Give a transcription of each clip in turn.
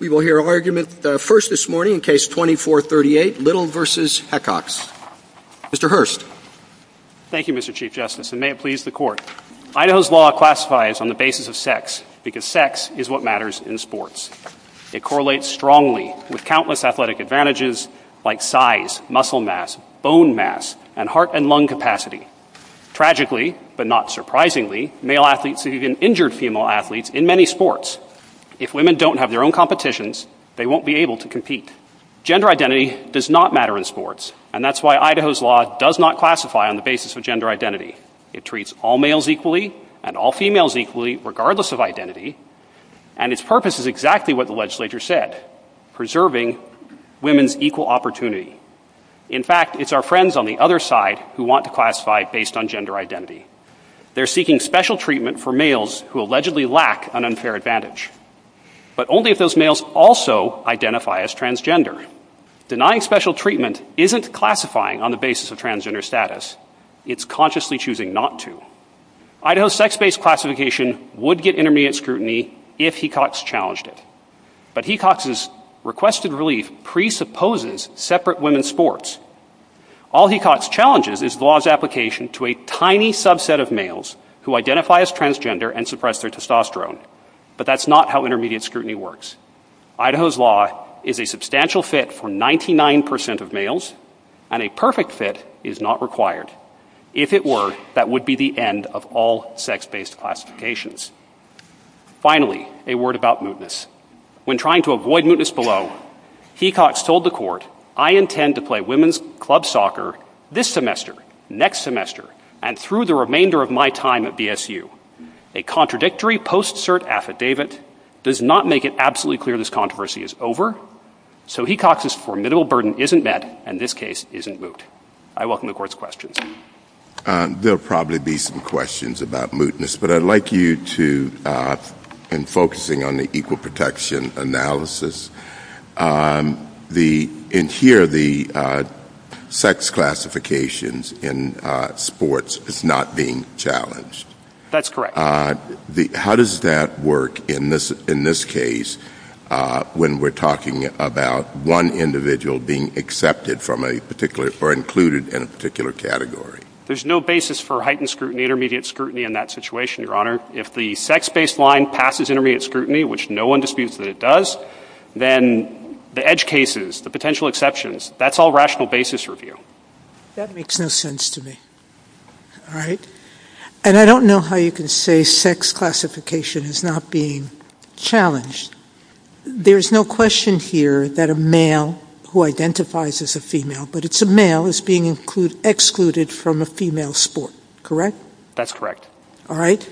Idaho's law classifies on the basis of sex, because sex is what matters in sports. It correlates strongly with countless athletic advantages, like size, muscle mass, bone mass, and heart and lung capacity. Tragically, but not surprisingly, male athletes have even injured female athletes in many sports. If women don't have their own competitions, they won't be able to compete. Gender identity does not matter in sports, and that's why Idaho's law does not classify on the basis of gender identity. It treats all males equally, and all females equally, regardless of identity, and its purpose is exactly what the legislature said, preserving women's equal opportunity. In fact, it's our friends on the other side who want to classify based on gender identity. They're seeking special treatment for males who allegedly lack an unfair advantage, but only if those males also identify as transgender. Denying special treatment isn't classifying on the basis of transgender status, it's consciously choosing not to. Idaho's sex-based classification would get intermediate scrutiny if Hecox challenged it, but Hecox's requested relief presupposes separate women's sports. All Hecox challenges is the law's application to a tiny subset of males who identify as transgender and suppress their testosterone, but that's not how intermediate scrutiny works. Idaho's law is a substantial fit for 99% of males, and a perfect fit is not required. If it were, that would be the end of all sex-based classifications. Finally, a word about mootness. When trying to avoid mootness below, Hecox told the court, I intend to play women's club soccer this semester, next semester, and through the remainder of my time at BSU. A contradictory post-cert affidavit does not make it absolutely clear this controversy is over, so Hecox's formidable burden isn't met, and this case isn't moot. I welcome the court's questions. There'll probably be some questions about mootness, but I'd like you to, in focusing on the equal protection analysis, in here, the sex classifications in sports is not being challenged. That's correct. How does that work in this case, when we're talking about one individual being accepted from a particular, or included in a particular category? There's no basis for heightened scrutiny, intermediate scrutiny in that situation, Your Honor. If the sex-based line passes intermediate scrutiny, which no one disputes that it does, then the edge cases, the potential exceptions, that's all rational basis for review. That makes no sense to me, all right? And I don't know how you can say sex classification is not being challenged. There's no question here that a male who identifies as a female, but it's a male, is being excluded from a female sport, correct? That's correct. All right?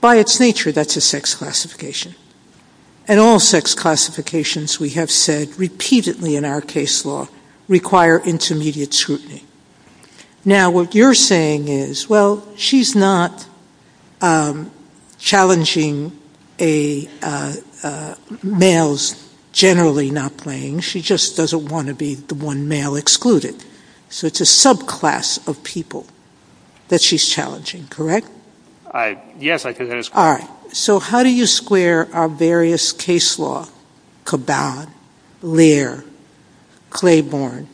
By its nature, that's a sex classification. And all sex classifications, we have said repeatedly in our case law, require intermediate scrutiny. Now, what you're saying is, well, she's not challenging males generally not playing. She just doesn't want to be the one male excluded. So it's a subclass of people that she's challenging, correct? Yes, I could answer that. All right. So how do you square our various case law, Caban, Lear, Claiborne,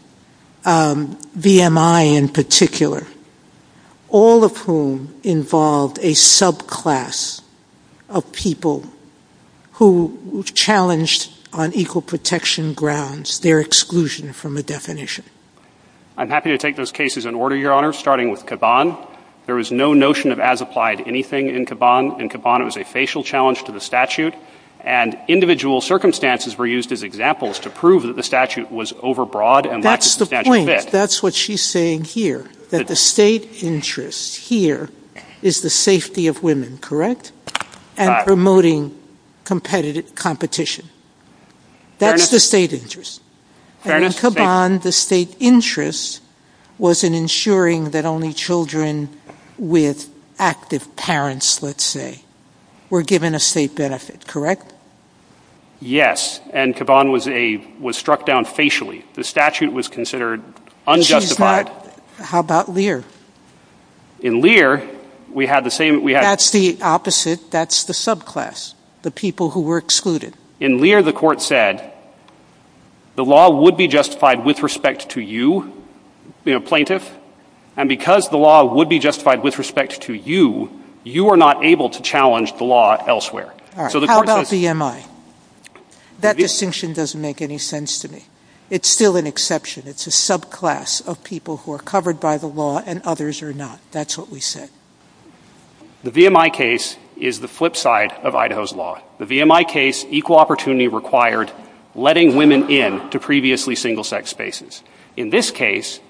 VMI in particular, all of whom involve a subclass of people who challenged on equal protection grounds, their exclusion from a definition? I'm happy to take those cases in order, Your Honor, starting with Caban. There is no notion of as applied anything in Caban. In Caban, it was a facial challenge to the statute. And individual circumstances were used as examples to prove that the statute was overbroad and lack of substantial fit. That's what she's saying here, that the state interest here is the safety of women, correct? And promoting competitive competition. That's the state interest. And in Caban, the state interest was in ensuring that only children with active parents, let's say, were given a state benefit, correct? Yes. And Caban was struck down facially. The statute was considered unjustified. How about Lear? In Lear, we had the same... That's the opposite. That's the subclass, the people who were excluded. In Lear, the court said, the law would be justified with respect to you, the plaintiff. And because the law would be justified with respect to you, you are not able to challenge the law elsewhere. All right. How about VMI? That distinction doesn't make any sense to me. It's still an exception. It's a subclass of people who are covered by the law and others are not. That's what we said. The VMI case is the flip side of Idaho's law. The VMI case, equal opportunity required letting women in to previously single-sex spaces. In this case,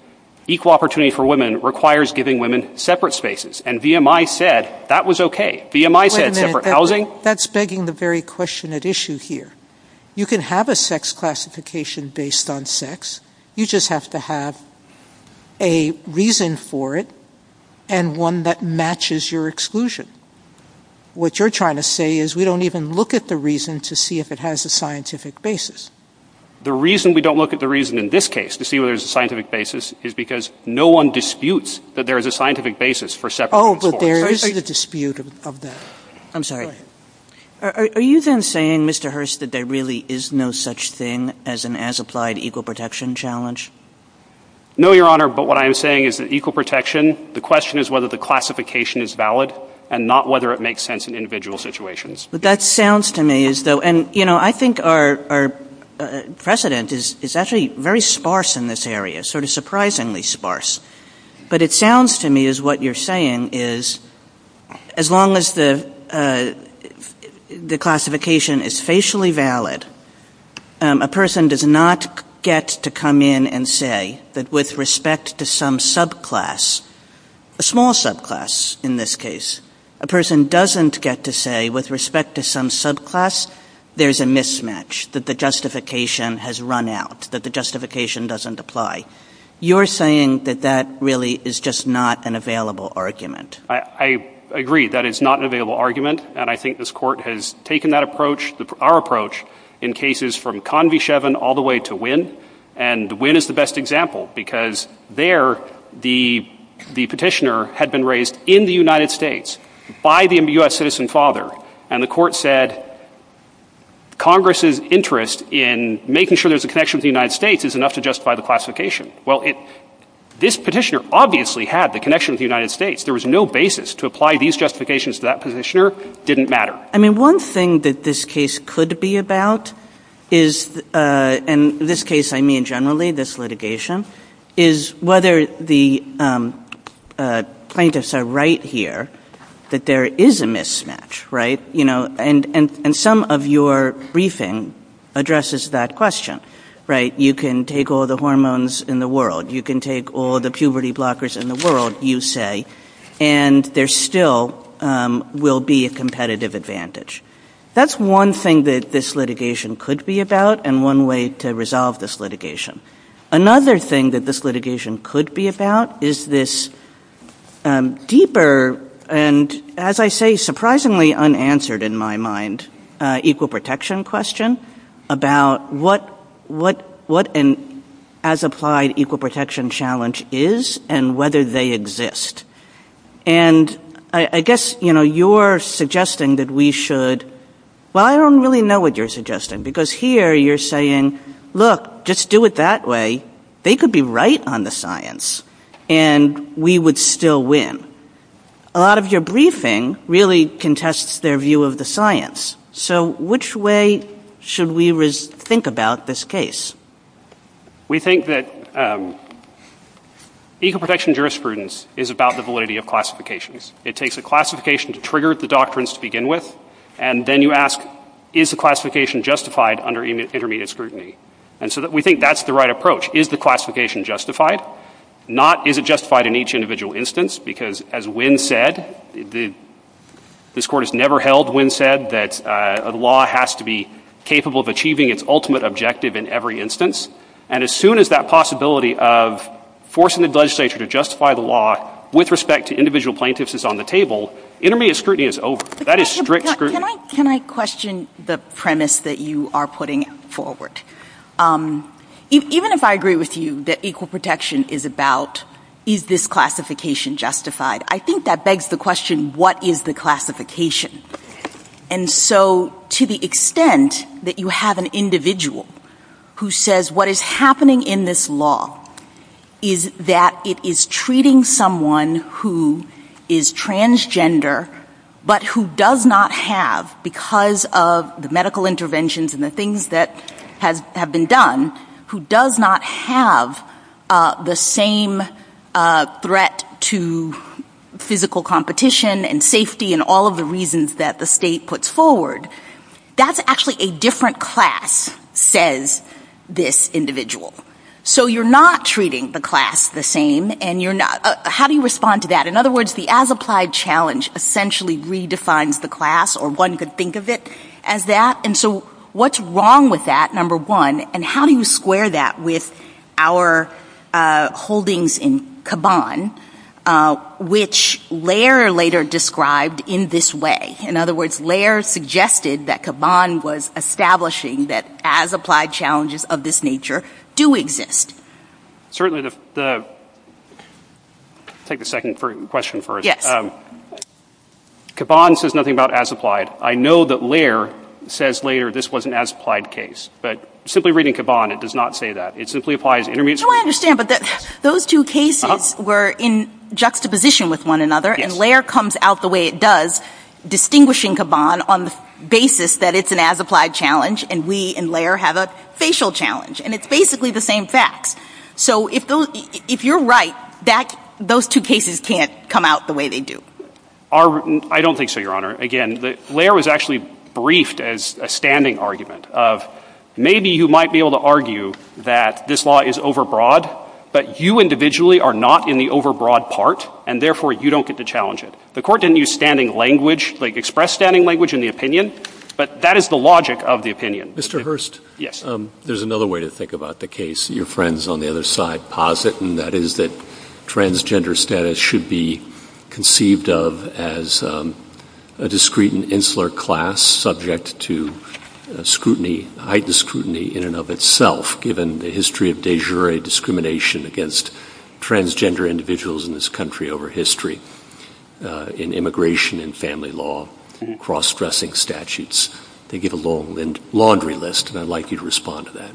equal opportunity for women requires giving women separate spaces. And VMI said that was okay. VMI said separate housing... That's begging the very question at issue here. You can have a sex classification based on sex. You just have to have a reason for it and one that matches your exclusion. What you're trying to say is we don't even look at the reason to see if it has a scientific basis. The reason we don't look at the reason in this case to see whether there's a scientific basis is because no one disputes that there is a scientific basis for separate... Oh, but there is a dispute of that. I'm sorry. Are you then saying, Mr. Hurst, that there really is no such thing as an as-applied equal protection challenge? No, Your Honor, but what I am saying is that equal protection, the question is whether the classification is valid and not whether it makes sense in individual situations. That sounds to me as though... I think our precedent is actually very sparse in this area, sort of surprisingly sparse. But it sounds to me as what you're saying is as long as the classification is facially valid, a person does not get to come in and say that with respect to some subclass, a small subclass in this case, a person doesn't get to say with respect to some subclass there's a mismatch, that the justification has run out, that the justification doesn't apply. You're saying that that really is just not an available argument. I agree. That is not an available argument, and I think this Court has taken that approach, our approach, in cases from Convy-Chevin all the way to Wynne, and Wynne is the best example because there the petitioner had been raised in the United States by the U.S. citizen father, and the Court said Congress's interest in making sure there's a connection with the United States is enough to justify the classification. Well, this petitioner obviously had the connection with the United States. There was no basis to apply these justifications to that petitioner. It didn't matter. I mean, one thing that this case could be about is, and in this case I mean generally this litigation, is whether the plaintiffs are right here that there is a mismatch, right? And some of your briefing addresses that question, right? You can take all the hormones in the world. You can take all the puberty blockers in the world, you say, and there still will be a competitive advantage. That's one thing that this litigation could be about and one way to resolve this litigation. Another thing that this litigation could be about is this deeper and, as I say, surprisingly unanswered in my mind, equal protection question about what an as-applied equal protection challenge is and whether they exist. And I guess, you know, you're suggesting that we should, well, I don't really know what you're suggesting because here you're saying, look, just do it that way. They could be right on the science and we would still win. A lot of your briefing really contests their view of the science. So which way should we think about this case? We think that equal protection jurisprudence is about the validity of classifications. It takes a classification to trigger the doctrines to begin with and then you ask, is the classification justified under intermediate scrutiny? And so we think that's the right approach. Is the classification justified? Not is it justified in each individual instance because, as Wynn said, this Court has never held, Wynn said, that a law has to be capable of achieving its ultimate objective in every instance. And as soon as that possibility of forcing the legislature to justify the law with respect to individual plaintiffs is on the table, intermediate scrutiny is over. That is strict scrutiny. Can I question the premise that you are putting forward? Even if I agree with you that equal protection is about, is this classification justified? I think that begs the question, what is the classification? And so to the extent that you have an individual who says what is happening in this law is that it is treating someone who is transgender but who does not have, because of the medical interventions and the things that have been done, who does not have the same threat to physical competition and safety and all of the reasons that the state puts forward, that's actually a different class, says this individual. So you're not treating the class the same. And how do you respond to that? In other words, the as applied challenge essentially redefines the class or one could think of it as that. And so what's wrong with that, number one? And how do you square that with our holdings in Kaban, which Lehrer later described in this way? In other words, Lehrer suggested that Kaban was establishing that as applied challenges of this nature do exist. Certainly the, take a second question first. Kaban says nothing about as applied. I know that Lehrer says, Lehrer, this was an as applied case, but simply reading Kaban, it does not say that. It simply applies. I understand, but those two cases were in juxtaposition with one another and Lehrer comes out the way it does, distinguishing Kaban on the basis that it's an as applied challenge. And we and Lehrer have a facial challenge and it's basically the same fact. So if you're right, those two cases can't come out the way they do. I don't think so, Your Honor. Again, Lehrer was actually briefed as a standing argument of maybe you might be able to argue that this law is overbroad, but you individually are not in the overbroad part and therefore you don't get to challenge it. The court didn't use standing language, like express standing language in the opinion, but that is the logic of the opinion. Mr. Hurst, there's another way to think about the case. Your friends on the other side posit, and that is that transgender status should be conceived of as a discreet and insular class subject to scrutiny, high discrutiny in and of itself. Given the history of de jure discrimination against transgender individuals in this country over history in immigration and family law, cross-dressing statutes, they get a long laundry list. And I'd like you to respond to that.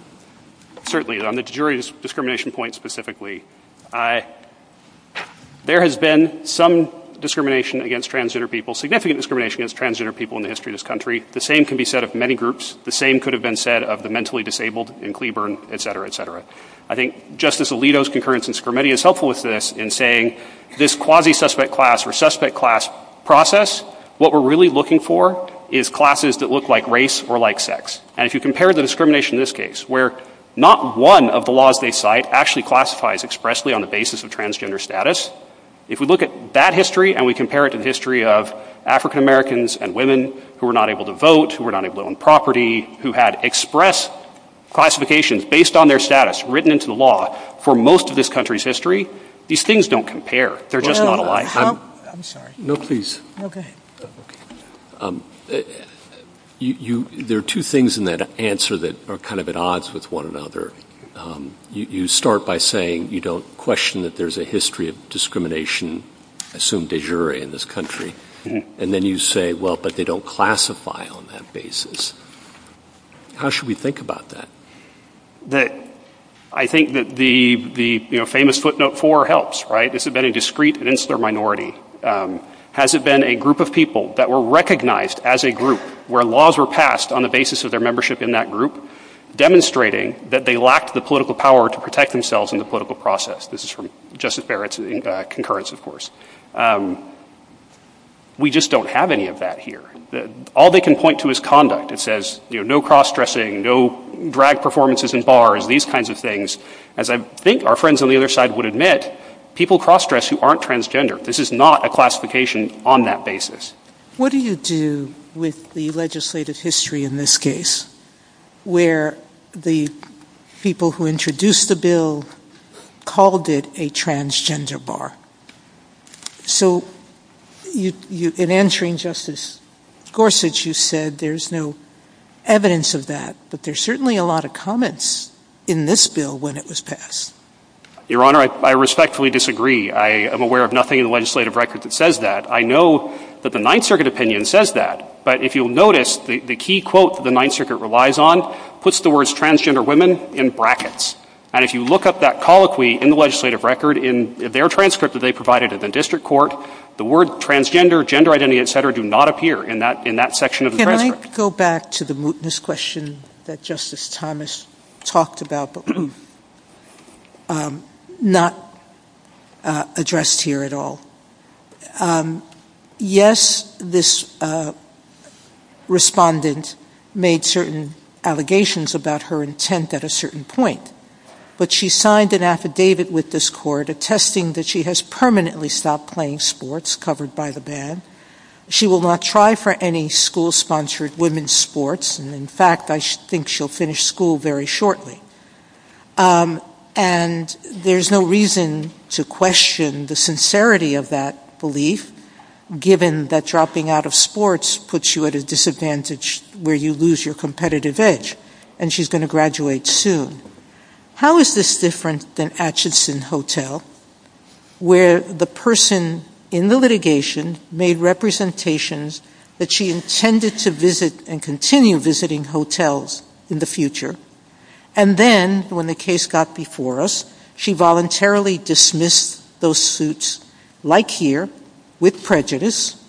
Certainly, on the de jure discrimination point specifically, there has been some discrimination against transgender people, significant discrimination against transgender people in the history of this country. The same can be said of many groups. The same could have been said of the mentally disabled in Cleburne, et cetera, et cetera. I think Justice Alito's concurrence in scrutiny is helpful with this in saying this quasi-suspect class or suspect class process, what we're really looking for is classes that look like race or like sex. And if you compare the discrimination in this case, where not one of the laws they cite actually classifies expressly on the basis of transgender status, if we look at that history and we compare it to the history of African-Americans and women who were not able to vote, who were not able to own property, who had express classifications based on their status written into the law for most of this country's history, these things don't compare. They're just not alike. No, please. There are two things in that answer that are kind of at odds with one another. You start by saying you don't question that there's a history of discrimination, I assume de jure in this country, and then you say, well, but they don't classify on that basis. How should we think about that? I think that the famous footnote four helps, right? Has it been a discreet and insular minority? Has it been a group of people that were recognized as a group where laws were passed on the basis of their membership in that group demonstrating that they lacked the political power to protect themselves in the political process? This is from Justice Barrett's concurrence, of course. We just don't have any of that here. All they can point to is conduct. It says, you know, no cross-dressing, no drag performances in bars, these kinds of things. As I think our friends on the other side would admit, people cross-dress who aren't transgender. This is not a classification on that basis. What do you do with the legislative history in this case where the people who introduced the bill called it a transgender bar? So in answering Justice Gorsuch, you said there's no evidence of that, but there's certainly a lot of comments in this bill when it was passed. Your Honor, I respectfully disagree. I am aware of nothing in the legislative record that says that. I know that the Ninth Circuit opinion says that. But if you'll notice, the key quote the Ninth Circuit relies on puts the words transgender women in brackets. And if you look up that colloquy in the legislative record, in their transcript that they provided at the district court, the word transgender, gender identity, et cetera, do not appear in that in that section of the transcript. I'd like to go back to the mootness question that Justice Thomas talked about, but not addressed here at all. Yes, this respondent made certain allegations about her intent at a certain point, but she signed an affidavit with this court attesting that she has permanently stopped playing sports covered by the ban. She will not try for any school sponsored women's sports. And in fact, I think she'll finish school very shortly. And there's no reason to question the sincerity of that belief, given that dropping out of sports puts you at a disadvantage where you lose your competitive edge and she's going to graduate soon. How is this different than Atchison Hotel, where the person in the litigation made representations that she intended to visit and continue visiting hotels in the future? And then when the case got before us, she voluntarily dismissed those suits like here with prejudice.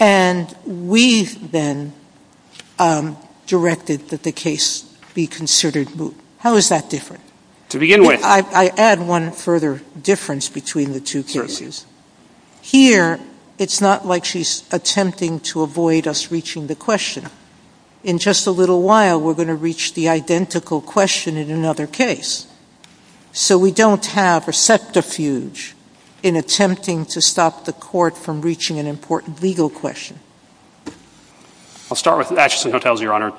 And we've then directed that the case be considered moot. How is that different? To begin with, I add one further difference between the two cases here. It's not like she's attempting to avoid us reaching the question in just a little while. We're going to reach the identical question in another case. So we don't have a set refuge in attempting to stop the court from reaching an important legal question. I'll start with Atchison Hotels, Your Honor.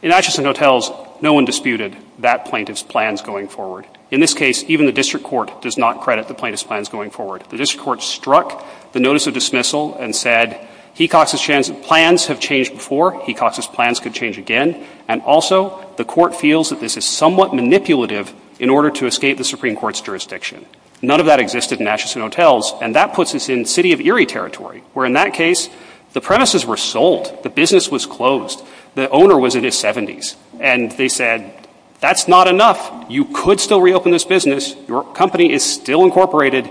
In Atchison Hotels, no one disputed that plaintiff's plans going forward. In this case, even the district court does not credit the plaintiff's plans going forward. The district court struck the notice of dismissal and said, Hecox's plans have changed before. Hecox's plans could change again. And also, the court feels that this is somewhat manipulative in order to escape the Supreme Court's jurisdiction. None of that existed in Atchison Hotels. And that puts us in the city of Erie territory, where in that case, the premises were sold. The business was closed. The owner was in his 70s. And they said, That's not enough. You could still reopen this business. Your company is still incorporated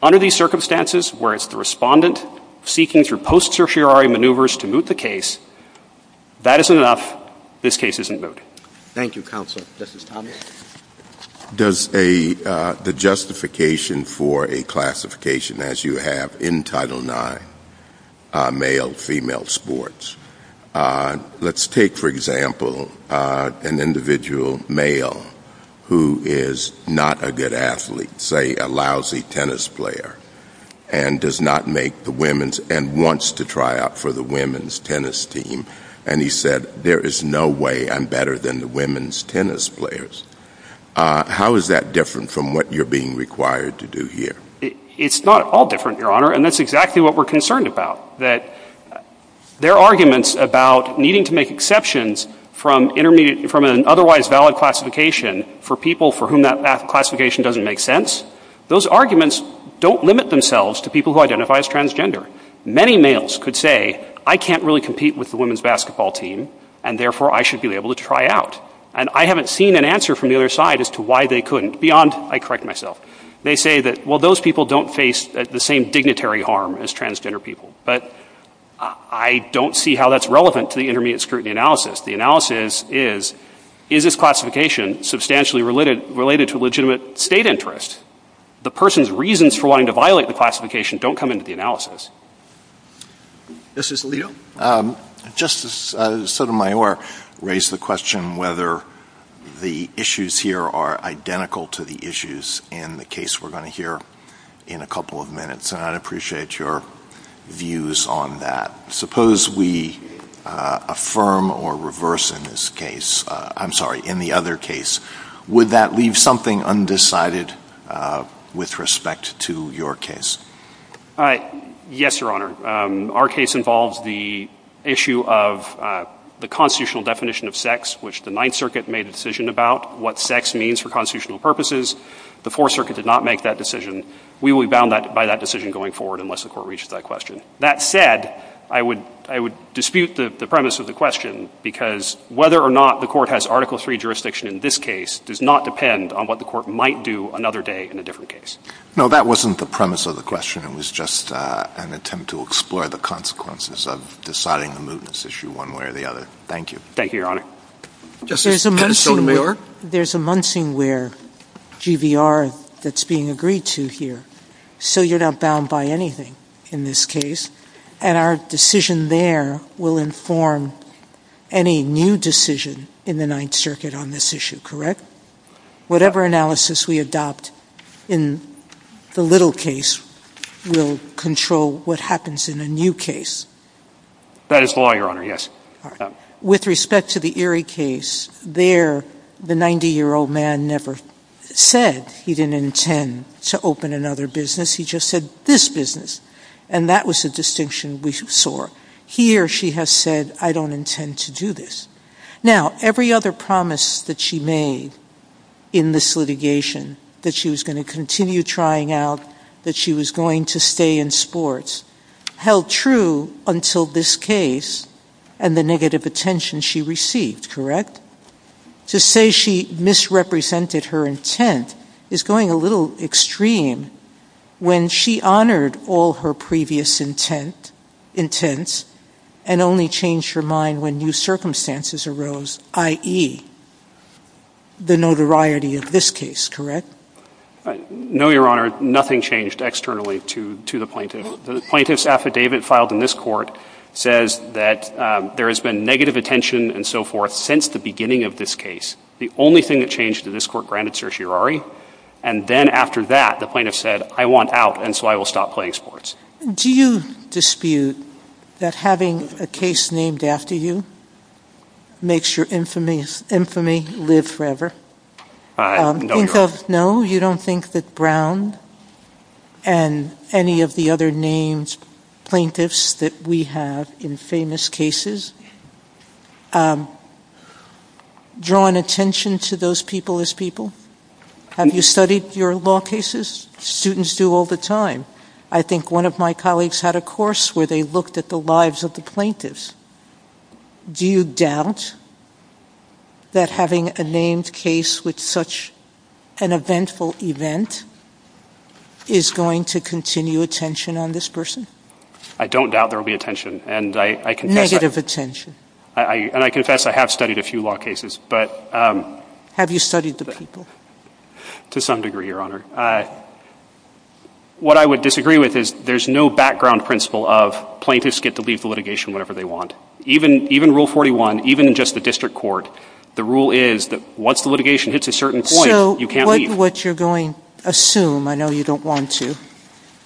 under these circumstances, whereas the respondent seeking through post-sufirari maneuvers to moot the case. That is enough. This case isn't good. Thank you, Counsel. Justice Thomas. Does the justification for a classification, as you have in Title IX, male-female sports. Let's take, for example, an individual male who is not a good athlete, say a lousy tennis player, and does not make the women's and wants to try out for the women's tennis team. And he said, There is no way I'm better than the women's tennis players. How is that different from what you're being required to do here? It's not at all different, Your Honor. And that's exactly what we're concerned about, that there are arguments about needing to make exceptions from intermediate, from an otherwise valid classification for people for whom that classification doesn't make sense. Those arguments don't limit themselves to people who identify as transgender. Many males could say, I can't really compete with the women's basketball team, and therefore I should be able to try out. And I haven't seen an answer from the other side as to why they couldn't. Beyond, I correct myself, they say that, well, those people don't face the same dignitary harm as transgender people. But I don't see how that's relevant to the intermediate scrutiny analysis. The analysis is, is this classification substantially related to legitimate state interests? The person's reasons for wanting to violate the classification don't come into the analysis. This is Leo. Justice Sotomayor raised the question whether the issues here are identical to the issues in the case we're going to hear in a couple of minutes. And I'd appreciate your views on that. Suppose we affirm or reverse in this case, I'm sorry, in the other case, would that leave something undecided with respect to your case? All right. Yes, Your Honor. Our case involves the issue of the constitutional definition of sex, which the Ninth Circuit made a decision about what sex means for constitutional purposes. The Fourth Circuit did not make that decision. We will be bound by that decision going forward unless the court reached that question. That said, I would I would dispute the premise of the question, because whether or not the court has Article III jurisdiction in this case does not depend on what the court might do another day in a different case. No, that wasn't the premise of the question. It was just an attempt to explore the consequences of deciding the movements issue one way or the other. Thank you. Thank you, Your Honor. Justice Sotomayor. There's a munching where GVR that's being agreed to here. So you're not bound by anything in this case. And our decision there will inform any new decision in the Ninth Circuit on this issue. Correct. Whatever analysis we adopt. In the little case, we'll control what happens in a new case. That is the law, Your Honor, yes. With respect to the Erie case there, the 90 year old man never said he didn't intend to open another business. He just said this business. And that was a distinction we saw here. She has said, I don't intend to do this now. Every other promise that she made in this litigation that she was going to continue trying out, that she was going to stay in sports, held true until this case and the negative attention she received. Correct. To say she misrepresented her intent is going a little extreme when she honored all her previous intent and only changed her mind when new circumstances arose, i.e. The notoriety of this case, correct? No, Your Honor, nothing changed externally to to the plaintiff's affidavit filed in this court says that there has been negative attention and so forth since the beginning of this case. The only thing that changed to this court granted certiorari. And then after that, the plaintiff said, I want out and so I will stop playing sports. Do you dispute that having a case named after you? Makes your infamous infamy live forever. No, you don't think that Brown and any of the other names, plaintiffs that we have in famous cases. Drawing attention to those people as people, have you studied your law cases? Students do all the time. I think one of my colleagues had a course where they looked at the lives of the plaintiffs. Do you doubt that having a named case with such an eventful event is going to continue attention on this person? I don't doubt there will be attention and I can give attention and I confess I have studied a few law cases, but have you studied the people to some degree, Your Honor? What I would disagree with is there's no background principle of plaintiffs get to receive the litigation whenever they want, even rule 41, even in just the district court. The rule is that once the litigation hits a certain point, you can't leave. So what you're going to assume, I know you don't want to,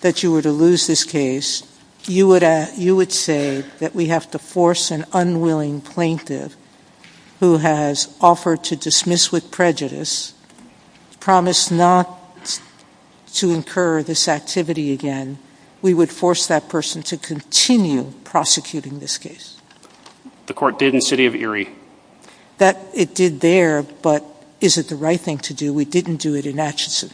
that you were to lose this case, you would say that we have to force an unwilling plaintiff who has offered to dismiss with prejudice, promise not to incur this activity again. We would force that person to continue prosecuting this case. The court did in the city of Erie. That it did there, but is it the right thing to do? We didn't do it in Atchison.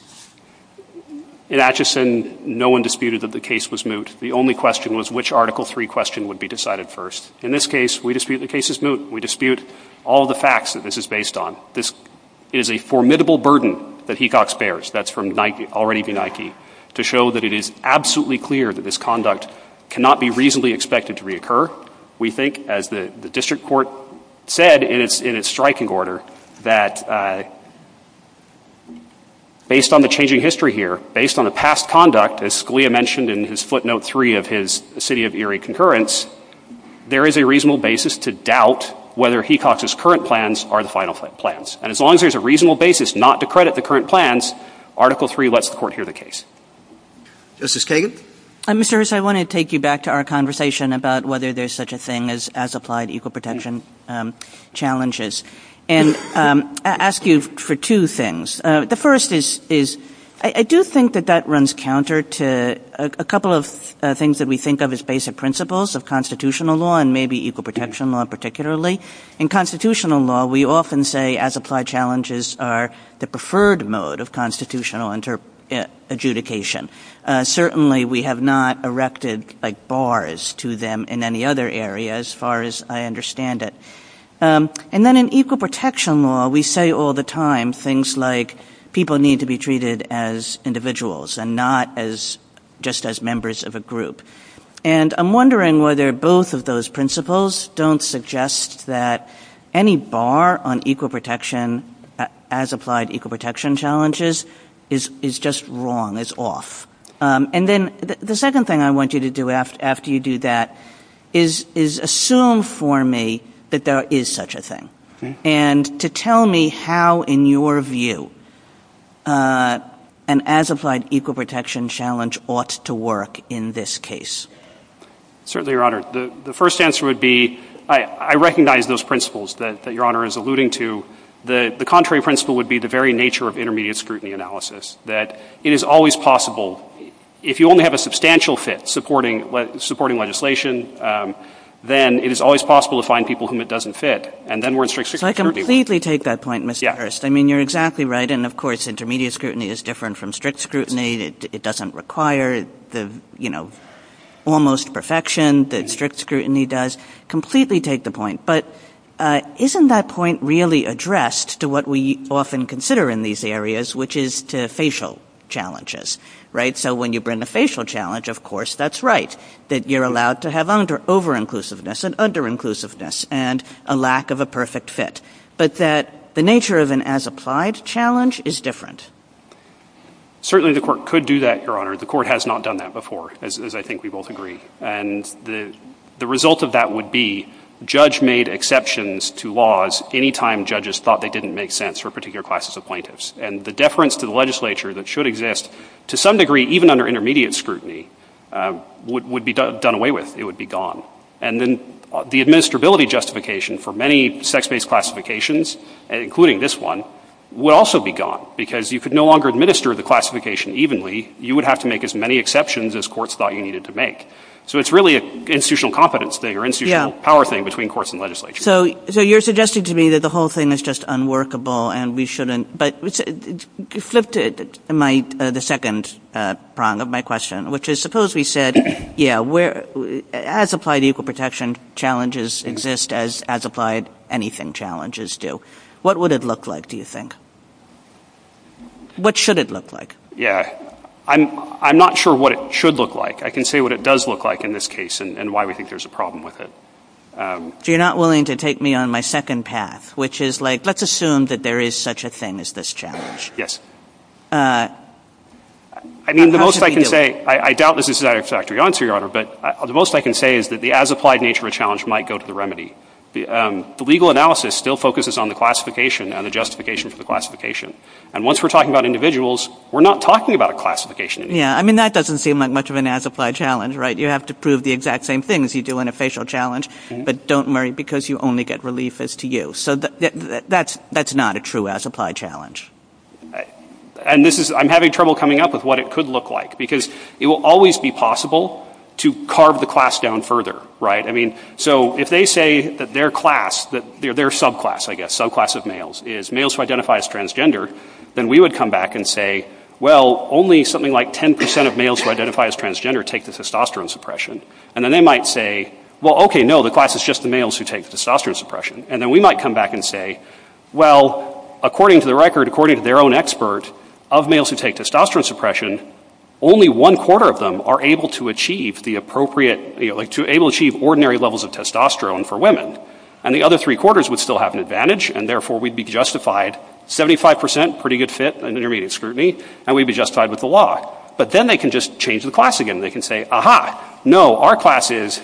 In Atchison, no one disputed that the case was moot. The only question was which Article 3 question would be decided first. In this case, we dispute the case is moot. We dispute all the facts that this is based on. This is a formidable burden that Hecox bears. That's from already the Nike, to show that it is absolutely clear that this conduct cannot be reasonably expected to reoccur. We think as the district court said in its striking order, that based on the changing history here, based on the past conduct, as Scalia mentioned in his footnote three of his city of Erie concurrence, there is a reasonable basis to doubt whether Hecox's current plans are the final plans. And as long as there's a reasonable basis not to credit the current plans, Article 3 lets the court hear the case. Justice Kagan? Mr. Erso, I want to take you back to our conversation about whether there's such a thing as applied equal protection challenges and ask you for two things. The first is, I do think that that runs counter to a couple of things that we think of as basic principles of constitutional law and maybe equal protection law particularly. In constitutional law, we often say as applied challenges are the preferred mode of constitutional inter adjudication. Certainly we have not erected like bars to them in any other area as far as I understand it. And then in equal protection law, we say all the time things like people need to be treated as individuals and not as just as members of a group. And I'm wondering whether both of those principles don't suggest that any bar on equal protection as applied equal protection challenges is just wrong, is off. And then the second thing I want you to do after you do that is assume for me that there is such a thing and to tell me how in your view an as applied equal protection challenge ought to work in this case. Certainly, Your Honor. The first answer would be I recognize those principles that Your Honor is alluding to. The contrary principle would be the very nature of intermediate scrutiny analysis that it is always possible if you only have a substantial fit supporting what supporting legislation, then it is always possible to find people whom it doesn't fit. And then we're in strict scrutiny. I completely take that point, Mr. Hearst. I mean, you're exactly right. And of course, intermediate scrutiny is different from strict scrutiny. It doesn't require the, you know, almost perfection that strict scrutiny does completely take the point. But isn't that point really addressed to what we often consider in these areas, which is to facial challenges? Right. So when you bring the facial challenge, of course, that's right, that you're allowed to have under over inclusiveness and under inclusiveness and a lack of a perfect fit. But that the nature of an as applied challenge is different. Certainly, the court could do that, Your Honor. The court has not done that before, as I think we both agree. And the result of that would be judge made exceptions to laws anytime judges thought they didn't make sense for particular classes of plaintiffs. And the deference to the legislature that should exist to some degree, even under intermediate scrutiny, would be done away with. It would be gone. And then the administrability justification for many sex based classifications, including this one, would also be gone because you could no longer administer the classification evenly. You would have to make as many exceptions as courts thought you needed to make. So it's really an institutional competence thing or institutional power thing between courts and legislature. So you're suggesting to me that the whole thing is just unworkable and we shouldn't. But you flipped it in the second prong of my question, which is suppose we said, yeah, as applied equal protection challenges exist as as applied anything challenges do, what would it look like, do you think? What should it look like? Yeah, I'm not sure what it should look like. I can say what it does look like in this case and why we think there's a problem with it. You're not willing to take me on my second path, which is like, let's assume that there is such a thing as this challenge. Yes. I mean, the most I can say, I doubt this is the exact answer, Your Honor. But the most I can say is that the as applied nature of challenge might go to the remedy. The legal analysis still focuses on the classification and the justification for the classification. And once we're talking about individuals, we're not talking about a classification. Yeah, I mean, that doesn't seem like much of an as applied challenge, right? You have to prove the exact same things you do in a facial challenge. But don't worry, because you only get relief as to you. So that's that's not a true as applied challenge. And this is I'm having trouble coming up with what it could look like, because it will always be possible to carve the class down further. Right. I mean, so if they say that their class, their subclass, I guess, subclass of males is males who identify as transgender, then we would come back and say, well, only something like 10 percent of males who identify as transgender take the testosterone suppression. And then they might say, well, OK, no, the class is just the males who take testosterone suppression. And then we might come back and say, well, according to the record, according to their own expert of males who take testosterone suppression, only one quarter of them are able to achieve the appropriate to able to achieve ordinary levels of testosterone for women. And the other three quarters would still have an advantage. And therefore we'd be justified. Seventy five percent, pretty good fit and intermediate scrutiny and we'd be justified with the law. But then they can just change the class again. They can say, aha, no, our class is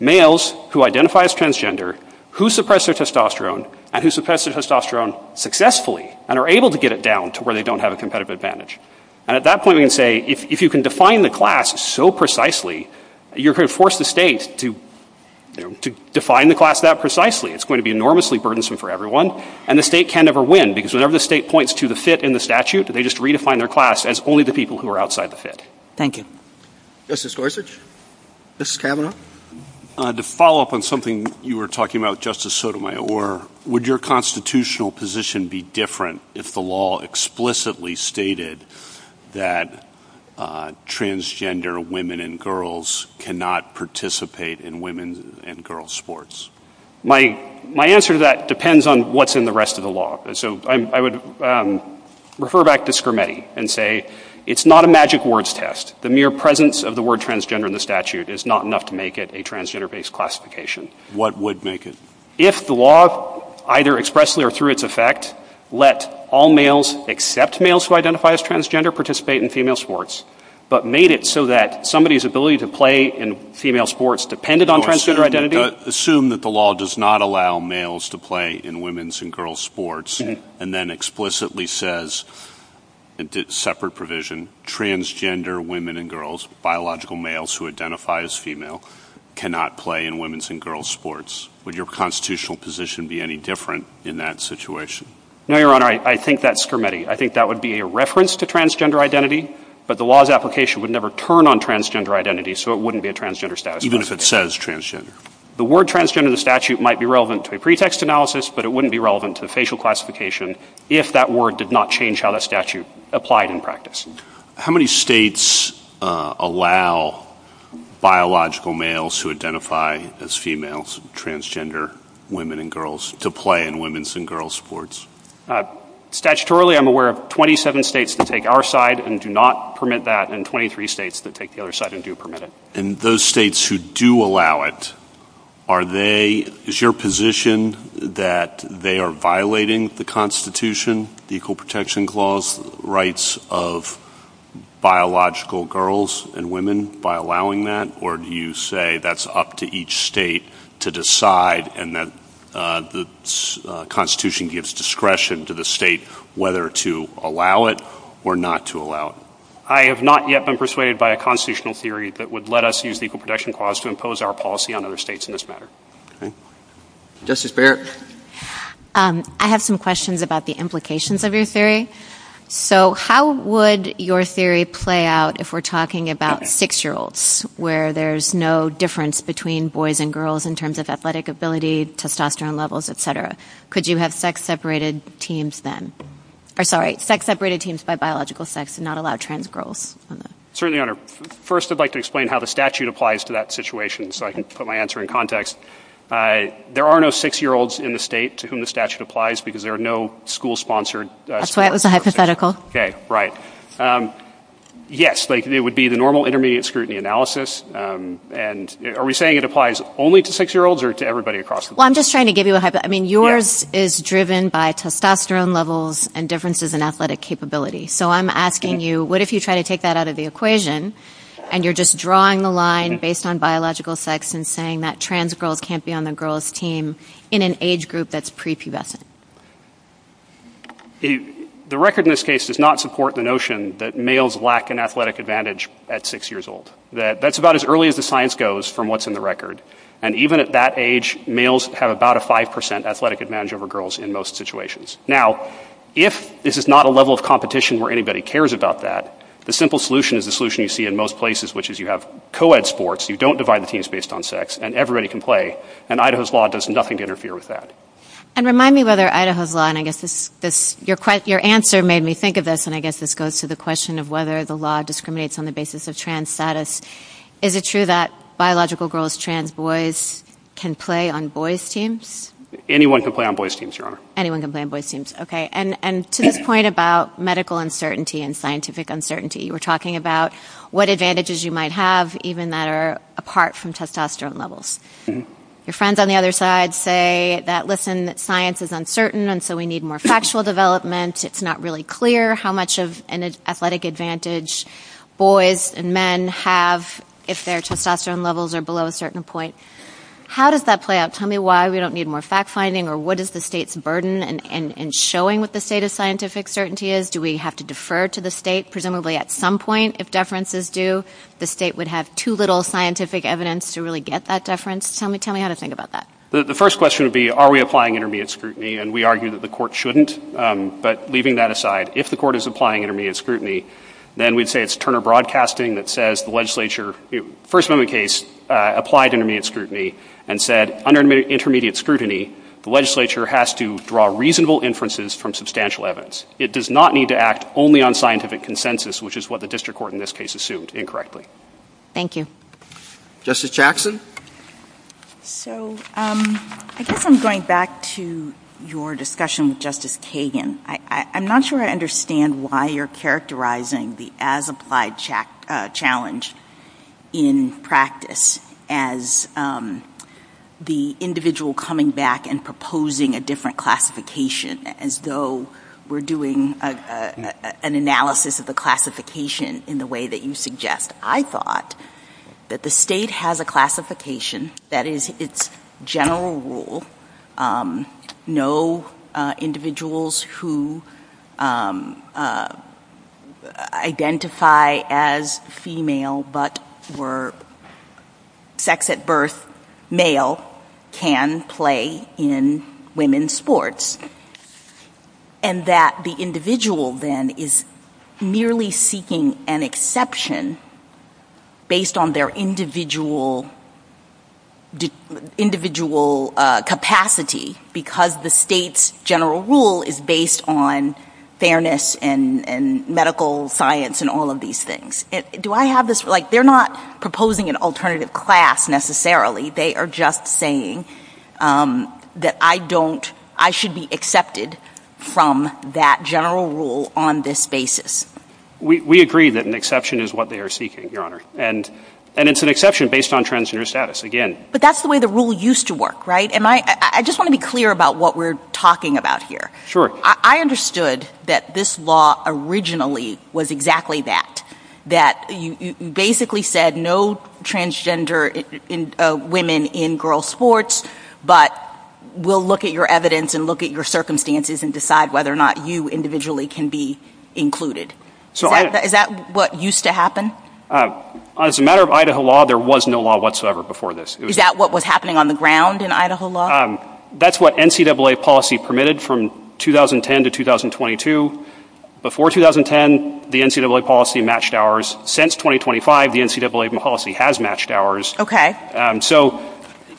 males who identify as transgender, who suppress their testosterone and who suppress their testosterone successfully and are able to get it down to where they don't have a competitive advantage. And at that point, we can say if you can define the class so precisely, you can force the state to define the class that precisely. It's going to be enormously burdensome for everyone. And the state can never win because whenever the state points to the fit in the statute, they just redefine their class as only the people who are outside the fit. Thank you. Justice Gorsuch, Justice Kavanaugh, to follow up on something you were talking about, Justice Sotomayor, would your constitutional position be different if the law explicitly stated that transgender women and girls cannot participate in women and girls sports? My answer to that depends on what's in the rest of the law. So I would refer back to Schermetti and say it's not a magic words test. The mere presence of the word transgender in the statute is not enough to make it a transgender based classification. What would make it? If the law, either expressly or through its effect, let all males except males who identify as transgender participate in female sports, but made it so that somebody's ability to play in female sports depended on transgender identity, assume that the law does not allow males to play in women's and girls sports and then explicitly says separate provision, transgender women and girls, biological males who identify as female cannot play in women's and girls sports. Would your constitutional position be any different in that situation? No, Your Honor, I think that's Schermetti. I think that would be a reference to transgender identity, but the law's application would never turn on transgender identity. So it wouldn't be a transgender status, even if it says transgender. The word transgender in the statute might be relevant to a pretext analysis, but it wouldn't be relevant to the facial classification if that word did not change how the statute applied in practice. How many states allow biological males who identify as females, transgender women and girls to play in women's and girls sports? Statutorily, I'm aware of 27 states that take our side and do not permit that, and 23 states that take the other side and do permit it. And those states who do allow it, are they, is your position that they are violating the Constitution, the Equal Protection Clause, rights of biological girls and women by allowing that? Or do you say that's up to each state to decide and that the Constitution gives discretion to the state whether to allow it or not to allow it? I have not yet been persuaded by a constitutional theory that would let us use the Equal Protection Clause to impose our policy on other states in this matter. Justice Barrett? I have some questions about the implications of your theory. So how would your theory play out if we're talking about six-year-olds, where there's no difference between boys and girls in terms of athletic ability, testosterone levels, et cetera? Could you have sex-separated teams then? Or sorry, sex-separated teams by biological sex and not allow trans girls? Certainly, Your Honor. First, I'd like to explain how the statute applies to that situation so I can put my answer in context. There are no six-year-olds in the state to whom the statute applies because there are no school-sponsored... That's why it was a hypothetical. Okay, right. Yes, but it would be the normal intermediate scrutiny analysis. And are we saying it applies only to six-year-olds or to everybody across the board? Well, I'm just trying to give you a hypothetical. I mean, yours is driven by testosterone levels and differences in athletic capability. So I'm asking you, what if you try to take that out of the equation and you're just drawing the line based on biological sex and saying that trans girls can't be on the girls team in an age group that's prepubescent? The record in this case does not support the notion that males lack an athletic advantage at six years old. That's about as early as the science goes from what's in the record. And even at that age, males have about a 5% athletic advantage over girls in most situations. Now, if this is not a level of competition where anybody cares about that, the simple solution is the solution you see in most places, which is you have co-ed sports. You don't divide the teams based on sex, and everybody can play. And Idaho's law does nothing to interfere with that. And remind me whether Idaho's law, and I guess your answer made me think of this, and I guess this goes to the question of whether the law discriminates on the basis of trans status. Is it true that biological girls, trans boys can play on boys' teams? Anyone can play on boys' teams, Your Honor. Anyone can play on boys' teams. Okay. And to the point about medical uncertainty and scientific uncertainty, you were talking about what advantages you might have even that are apart from testosterone levels. Your friends on the other side say that, listen, science is uncertain, and so we need more factual development. It's not really clear how much of an athletic advantage boys and men have if their testosterone levels are below a certain point. How does that play out? Tell me why we don't need more fact-finding, or what is the state's burden in showing what the state of scientific certainty is? Do we have to defer to the state, presumably at some point, if deference is due? The state would have too little scientific evidence to really get that deference. Tell me how to think about that. The first question would be, are we applying intermediate scrutiny? And we argue that the court shouldn't. But leaving that aside, if the court is applying intermediate scrutiny, then we'd say it's Turner Broadcasting that says the legislature, first known case, applied intermediate scrutiny and said, under intermediate scrutiny, the legislature has to draw reasonable inferences from substantial evidence. It does not need to act only on scientific consensus, which is what the district court in this case assumed incorrectly. Thank you. Justice Jackson? So I think I'm going back to your discussion with Justice Kagan. I'm not sure I understand why you're characterizing the as-applied challenge in practice as the individual coming back and proposing a different classification, as though we're doing an analysis of the classification in the way that you suggest. I thought that the state has a classification that is its general rule. No individuals who identify as female but were sex at birth male can play in women's sports. And that the individual, then, is merely seeking an exception based on their individual capacity because the state's general rule is based on fairness and medical science and all of these things. Do I have this? They're not proposing an alternative class, necessarily. They are just saying that I should be accepted from that general rule on this basis. We agree that an exception is what they are seeking, Your Honor. And it's an exception based on transgender status, again. But that's the way the rule used to work, right? I just want to be clear about what we're talking about here. I understood that this law originally was exactly that. That you basically said no transgender women in girls' sports, but we'll look at your evidence and look at your circumstances and decide whether or not you individually can be included. Is that what used to happen? As a matter of Idaho law, there was no law whatsoever before this. Is that what was happening on the ground in Idaho law? That's what NCAA policy permitted from 2010 to 2022. Before 2010, the NCAA policy matched ours. Since 2025, the NCAA policy has matched ours.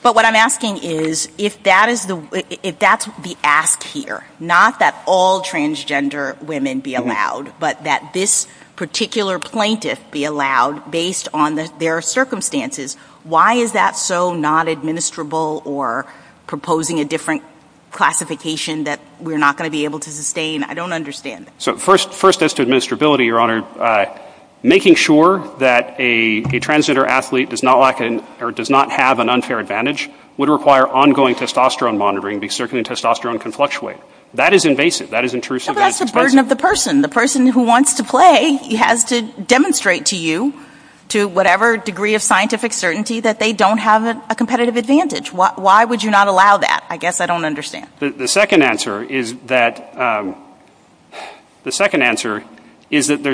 But what I'm asking is, if that's the act here, not that all transgender women be allowed, but that this particular plaintiff be allowed based on their circumstances, why is that so not administrable or proposing a different classification that we're not going to be able to sustain? I don't understand. First, as to administrability, Your Honor, making sure that a transgender athlete does not have an unfair advantage would require ongoing testosterone monitoring because certainly testosterone can fluctuate. That is invasive. That is intrusive. But that's the burden of the person. The person who wants to play has to demonstrate to you, to whatever degree of scientific certainty, that they don't have a competitive advantage. Why would you not allow that? I guess I don't understand. The second answer is that there's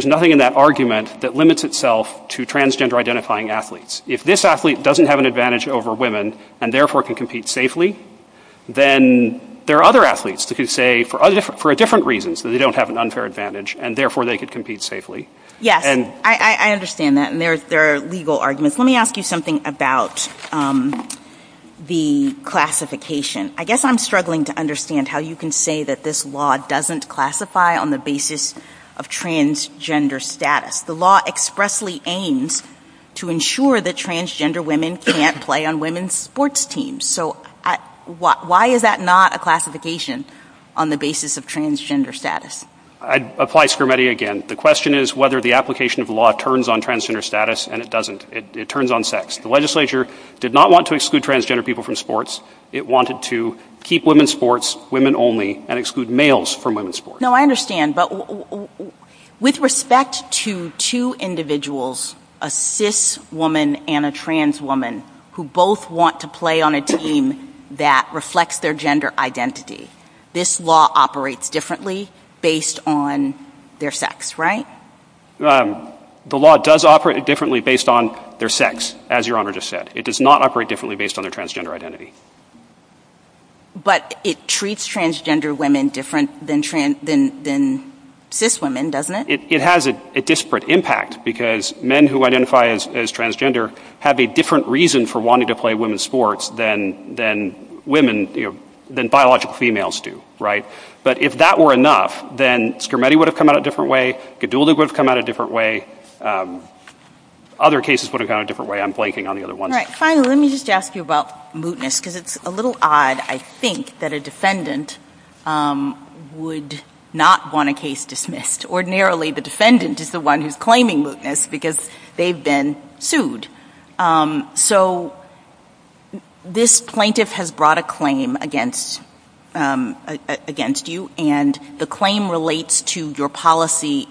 nothing in that argument that limits itself to transgender identifying athletes. If this athlete doesn't have an advantage over women and therefore can compete safely, then there are other athletes who say for different reasons that they don't have an unfair advantage and therefore they can compete safely. Yes, I understand that. There are legal arguments. Let me ask you something about the classification. I guess I'm struggling to understand how you can say that this law doesn't classify on the basis of transgender status. The law expressly aims to ensure that transgender women can't play on women's sports teams. So why is that not a classification on the basis of transgender status? I'd apply Spermetti again. The question is whether the application of the law turns on transgender status and it doesn't. It turns on sex. The legislature did not want to exclude transgender people from sports. It wanted to keep women's sports women only and exclude males from women's sports. No, I understand. But with respect to two individuals, a cis woman and a trans woman, who both want to play on a team that reflects their gender identity, this law operates differently based on their sex, right? The law does operate differently based on their sex, as Your Honor just said. It does not operate differently based on their transgender identity. But it treats transgender women different than cis women, doesn't it? It has a disparate impact because men who identify as transgender have a different reason for wanting to play women's sports than biological females do, right? But if that were enough, then Spermetti would have come out a different way. Gadulda would have come out a different way. Other cases would have come out a different way. I'm blanking on the other one. All right. Finally, let me just ask you about mootness because it's a little odd, I think, that a defendant would not want a case dismissed. Ordinarily, the defendant is the one who's claiming mootness because they've been sued. So this plaintiff has brought a claim against you and the claim relates to your policy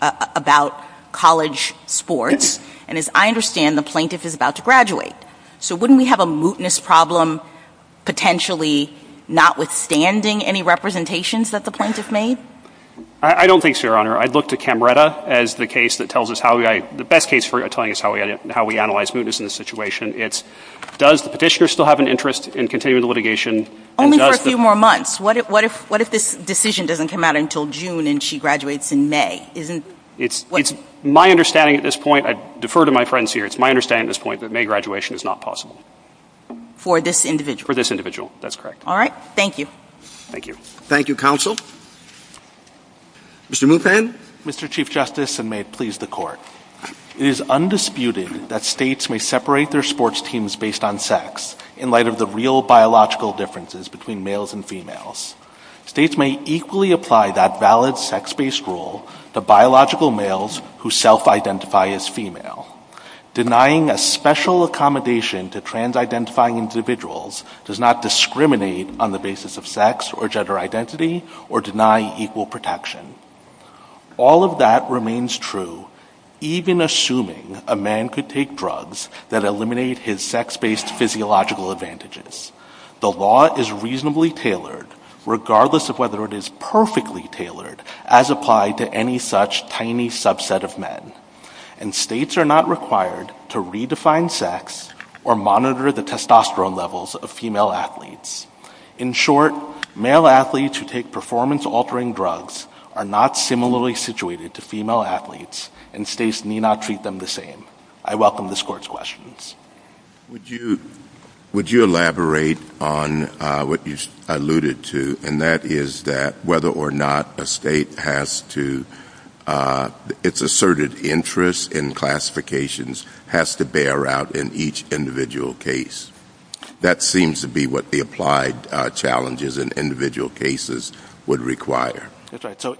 about college sports. And as I understand, the plaintiff is about to graduate. So wouldn't we have a mootness problem potentially notwithstanding any representations that the plaintiff made? I don't think so, Your Honor. I'd look to Camretta as the best case for telling us how we analyze mootness in this situation. Does the petitioner still have an interest in continuing the litigation? Only for a few more months. What if this decision doesn't come out until June and she graduates in May? It's my understanding at this point, I defer to my friends here, it's my understanding at this point that May graduation is not possible. For this individual? For this individual, that's correct. All right. Thank you. Thank you. Thank you, Counsel. Mr. Muthan. Mr. Chief Justice, and may it please the Court. It is undisputed that states may separate their sports teams based on sex in light of the real biological differences between males and females. States may equally apply that valid sex-based rule to biological males who self-identify as female. Denying a special accommodation to trans-identifying individuals does not discriminate on the basis of sex or gender identity or deny equal protection. All of that remains true, even assuming a man could take drugs that eliminate his sex-based physiological advantages. The law is reasonably tailored, regardless of whether it is perfectly tailored as applied to any such tiny subset of men. And states are not required to redefine sex or monitor the testosterone levels of female athletes. In short, male athletes who take performance-altering drugs are not similarly situated to female athletes and states need not treat them the same. I welcome this Court's questions. Would you elaborate on what you alluded to, and that is that whether or not a state has to, its asserted interest in classifications has to bear out in each individual case. That seems to be what the applied challenges in individual cases would require.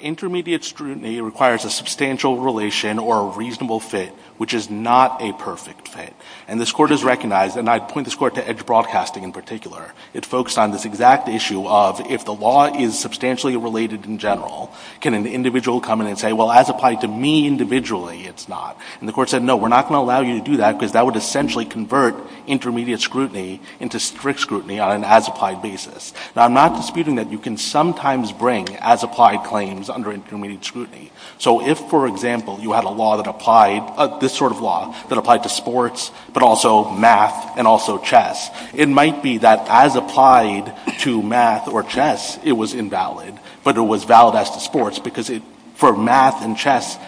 Intermediate scrutiny requires a substantial relation or a reasonable fit, which is not a perfect fit. And this Court has recognized, and I point this Court to Edge Broadcasting in particular, it focused on this exact issue of if the law is substantially related in general, can an individual come in and say, well, as applied to me individually, it's not. And the Court said, no, we're not going to allow you to do that because that would essentially convert intermediate scrutiny into strict scrutiny on an as-applied basis. Now, I'm not disputing that you can sometimes bring as-applied claims under intermediate scrutiny. So if, for example, you had a law that applied, this sort of law that applied to sports, but also math and also chess, it might be that as applied to math or chess, it was invalid, but it was valid as to sports because for math and chess,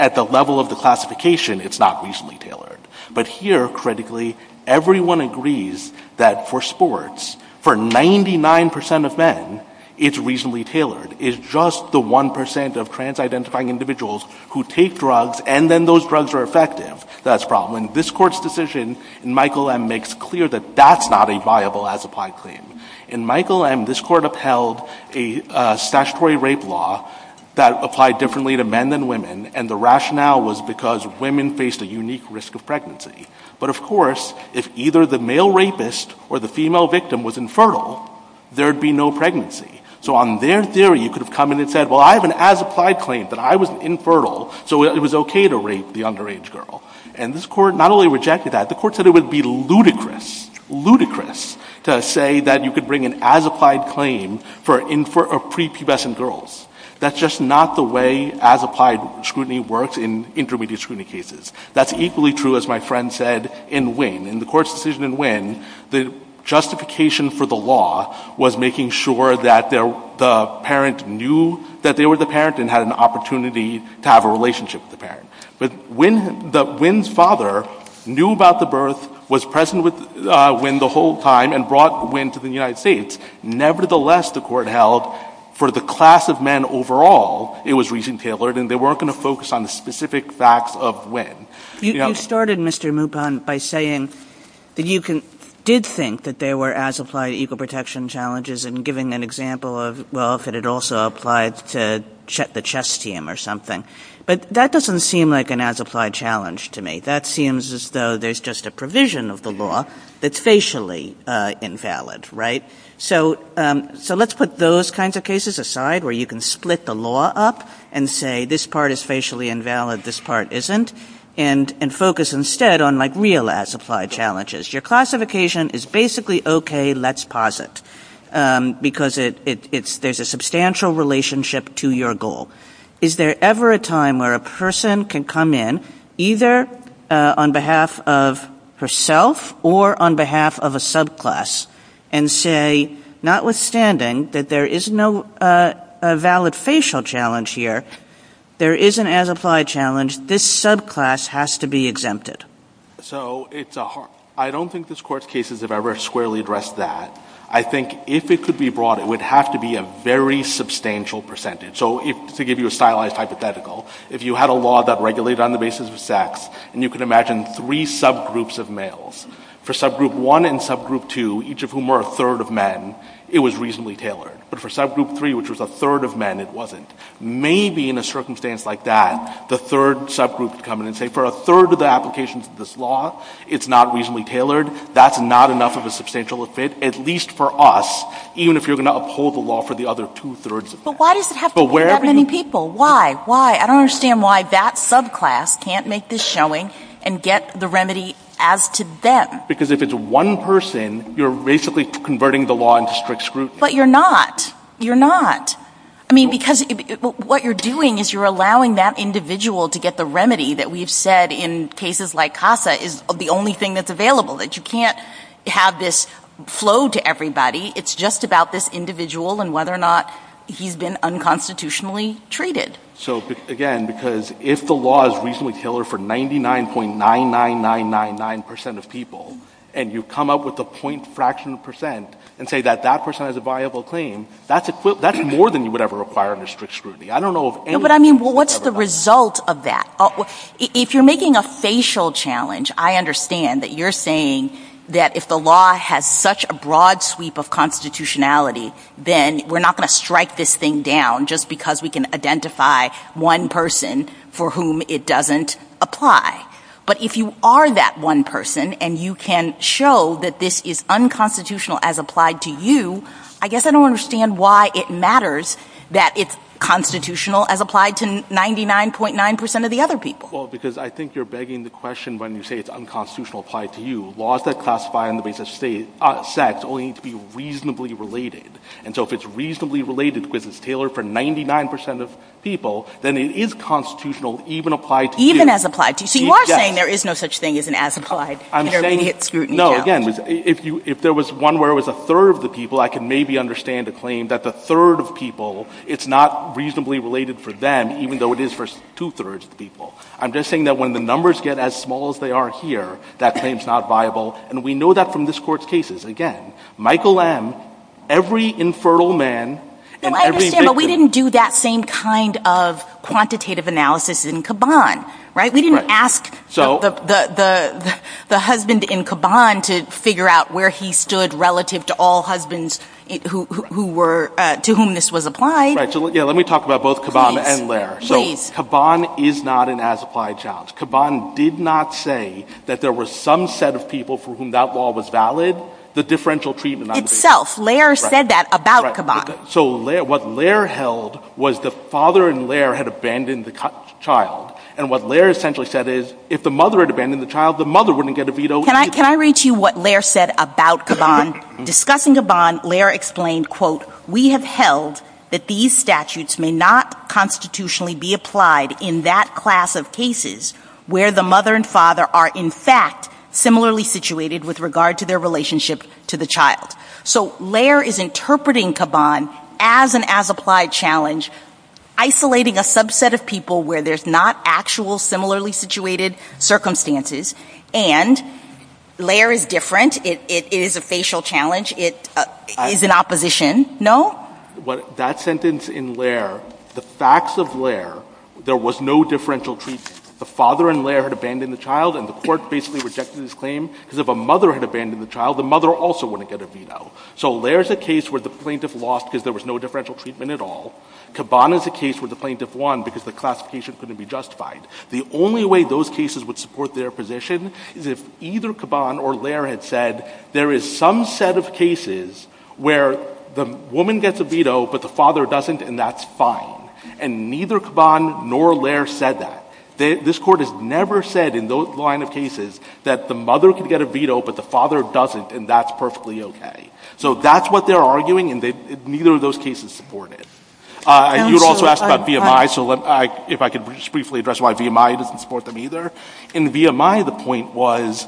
at the level of the classification, it's not reasonably tailored. But here, critically, everyone agrees that for sports, for 99% of men, it's reasonably tailored. It's just the 1% of trans-identifying individuals who take drugs and then those drugs are effective. That's a problem. And this Court's decision in Michael M makes clear that that's not a viable as-applied claim. In Michael M, this Court upheld a statutory rape law that applied differently to men than women, and the rationale was because women faced a unique risk of pregnancy. But of course, if either the male rapist or the female victim was infertile, there'd be no pregnancy. So on their theory, you could have come in and said, well, I have an as-applied claim, but I was infertile, so it was okay to rape the underage girl. And this Court not only rejected that, the Court said it would be ludicrous, ludicrous, to say that you could bring an as-applied claim for pre-pubescent girls. That's just not the way as-applied scrutiny works in intermediate scrutiny cases. That's equally true, as my friend said, in Nguyen. In the Court's decision in Nguyen, the justification for the law was making sure that the parent knew that they were the parent and had an opportunity to have a relationship with the parent. But Nguyen's father knew about the birth, was present with Nguyen the whole time, and brought Nguyen to the United States. Nevertheless, the Court held for the class of men overall, it was reason-tailored, and they weren't going to focus on the specific facts of Nguyen. You started, Mr. Mupon, by saying that you did think that there were as-applied equal protection challenges and giving an example of, well, if it had also applied to the chess team or something. But that doesn't seem like an as-applied challenge to me. That seems as though there's just a provision of the law that's facially invalid, right? So let's put those kinds of cases aside where you can split the law up and say, this part is facially invalid, this part isn't, and focus instead on, like, real as-applied challenges. Your classification is basically, okay, let's posit, because there's a substantial relationship to your goal. Is there ever a time where a person can come in, either on behalf of herself or on behalf of a subclass, and say, notwithstanding that there is no valid facial challenge here, there is an as-applied challenge, this subclass has to be exempted? So it's a hard... I don't think this Court's cases have ever squarely addressed that. I think if it could be brought, it would have to be a very substantial percentage. So to give you a stylized hypothetical, if you had a law that regulated on the basis of sex, and you can imagine three subgroups of males, for subgroup 1 and subgroup 2, each of whom were a third of men, it was reasonably tailored. But for subgroup 3, which was a third of men, it wasn't. Maybe in a circumstance like that, the third subgroup would come in and say, for a third of the applications of this law, it's not reasonably tailored, that's not enough of a substantial effect, at least for us, even if you're going to uphold the law for the other two-thirds of men. But why does it have to be that many people? Why? Why? I don't understand why that subclass can't make this showing and get the remedy as to them. Because if it's one person, you're basically converting the law into strict scrutiny. But you're not. You're not. I mean, because what you're doing is you're allowing that individual to get the remedy that we've said in cases like CASA is the only thing that's available, that you can't have this flow to everybody. It's just about this individual and whether or not he's been unconstitutionally treated. So, again, because if the law is reasonably tailored for 99.99999% of people and you come up with a point fraction of percent and say that that person has a viable claim, that's more than you would ever require under strict scrutiny. I don't know... But, I mean, what's the result of that? If you're making a facial challenge, I understand that you're saying that if the law has such a broad sweep of constitutionality, then we're not going to strike this thing down just because we can identify one person for whom it doesn't apply. But if you are that one person and you can show that this is unconstitutional as applied to you, I guess I don't understand why it matters that it's constitutional as applied to 99.9% of the other people. Well, because I think you're begging the question when you say it's unconstitutional applied to you. Laws that classify on the basis of sex only need to be reasonably related. And so if it's reasonably related because it's tailored for 99% of people, then it is constitutional even applied to... Even as applied to you. So you are saying there is no such thing as an as applied. No, again, if there was one where it was a third of the people, I can maybe understand a claim that the third of people, it's not reasonably related for them even though it is for two-thirds of the people. I'm just saying that when the numbers get as small as they are here, that claim's not viable. And we know that from this Court's cases. Again, Michael M., every infertile man... We didn't do that same kind of quantitative analysis in Caban. We didn't ask the husband in Caban to figure out where he stood relative to all husbands to whom this was applied. Let me talk about both Caban and Lehrer. Caban is not an as applied child. Caban did not say that there were some set of people for whom that law was valid. The differential treatment... Itself. Lehrer said that about Caban. So what Lehrer held was the father and Lehrer had abandoned the child. And what Lehrer essentially said is if the mother had abandoned the child, the mother wouldn't get a veto. Can I read you what Lehrer said about Caban? Discussing Caban, Lehrer explained, we have held that these statutes may not constitutionally be applied in that class of cases where the mother and father are in fact similarly situated with regard to their relationship to the child. So Lehrer is interpreting Caban as an as applied challenge, isolating a subset of people where there's not actual similarly situated circumstances. And Lehrer is different. It is a facial challenge. It is in opposition. No? That sentence in Lehrer, the facts of Lehrer, there was no differential treatment. The father and Lehrer had abandoned the child and the court basically rejected this claim because if a mother had abandoned the child the mother also wouldn't get a veto. So Lehrer is a case where the plaintiff lost because there was no differential treatment at all. Caban is a case where the plaintiff won because the classification couldn't be justified. The only way those cases would support their position is if either Caban or Lehrer had said there is some set of cases where the woman gets a veto but the father doesn't and that's fine. And neither Caban nor Lehrer said that. This court has never said in the line of cases that the mother can get a veto but the father doesn't and that's perfectly okay. So that's what they're arguing and neither of those cases support it. You also asked about VMI so if I could just briefly address why VMI doesn't support them either. In VMI the point was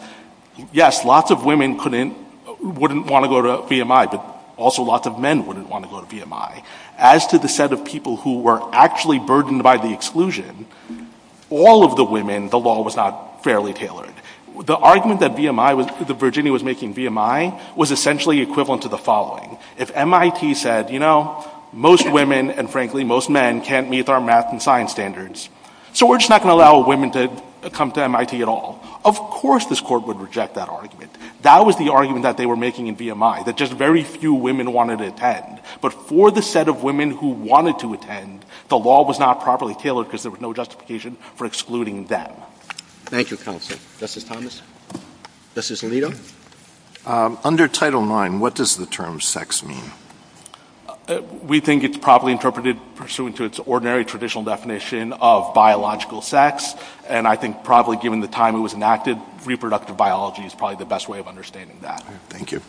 yes, lots of women wouldn't want to go to VMI but also lots of men wouldn't want to go to VMI. As to the set of people who were actually burdened by the exclusion all of the women the law was not fairly tailored. The argument that VMI that Virginia was making VMI was essentially equivalent to the following. If MIT said, you know, most women and frankly most men can't meet our math and science standards so we're just not going to allow women to come to MIT at all. Of course this court would reject that argument. That was the argument that they were making in VMI that just very few women wanted to attend but for the set of women who wanted to attend the law was not properly tailored because there was no justification for excluding them. Thank you, counsel. Justice Thomas. Justice Alito. Under Title IX what does the term sex mean? We think it's properly interpreted pursuant to its ordinary traditional definition of biological sex and I think probably given the time it was enacted, reproductive biology is probably the best way of understanding that. Thank you.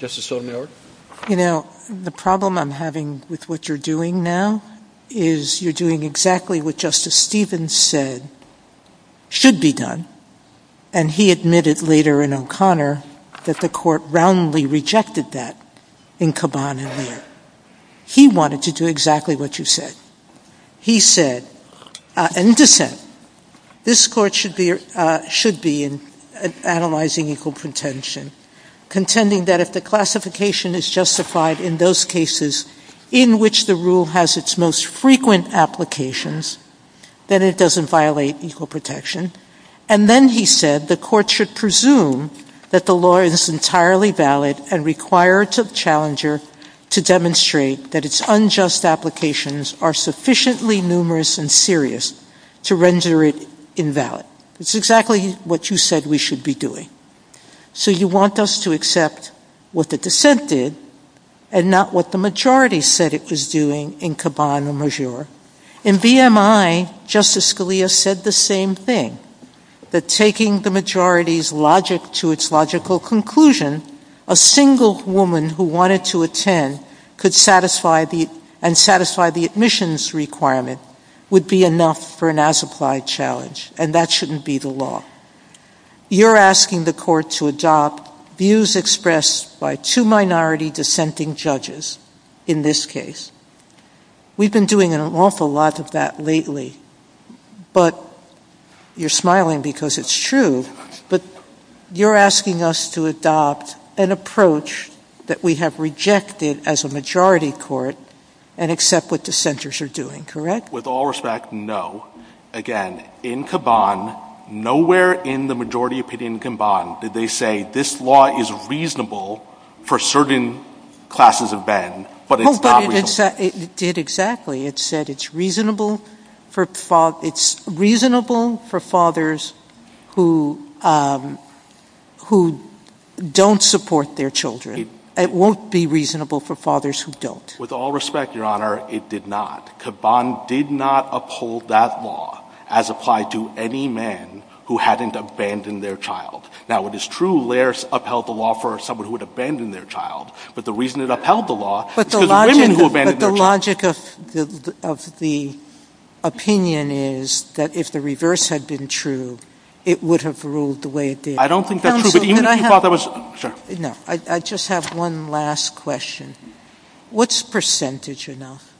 Justice Sotomayor. You know, the problem I'm having with what you're doing now is you're doing exactly what Justice Stevens said should be done and he admitted later in O'Connor that the court roundly rejected that in Caban and Lear. He wanted to do exactly what you said. He said this court should be analyzing equal pretension contending that if the classification is justified in those cases in which the rule has its most frequent applications then it doesn't violate equal protection and then he said the court should presume that the law is entirely valid and requires a challenger to demonstrate that its unjust applications are sufficiently numerous and serious to render it invalid. It's exactly what you said we should be doing. So you want us to accept what the dissent did and not what the majority said it was doing in Caban and Lear. In VMI Justice Scalia said the same thing that taking the majority's logic to its logical conclusion, a single woman who wanted to attend could satisfy the admissions requirement would be enough for an as-applied challenge and that shouldn't be the law. You're asking the court to adopt views expressed by two minority dissenting judges in this case. We've been doing an awful lot of that lately but you're smiling because it's true but you're asking us to adopt an approach that we have rejected as a majority court and accept what dissenters are doing, correct? With all respect, no. Again, in Caban, nowhere in the majority opinion in Caban did they say this law is reasonable for certain classes of men but it's not reasonable. It did exactly. It said it's reasonable for fathers it's reasonable for fathers who who don't support their children. It won't be reasonable for fathers who don't. With all respect, Your Honor, it did not. Caban did not uphold that law as applied to any man who hadn't abandoned their child. Now it is true Laird's upheld the law for someone who had abandoned their child but the reason it upheld the law was because of women who had abandoned their child. But the logic of the opinion is that if the reverse had been true it would have ruled the way it did. I don't think that's true. I just have one last question. What's percentage enough?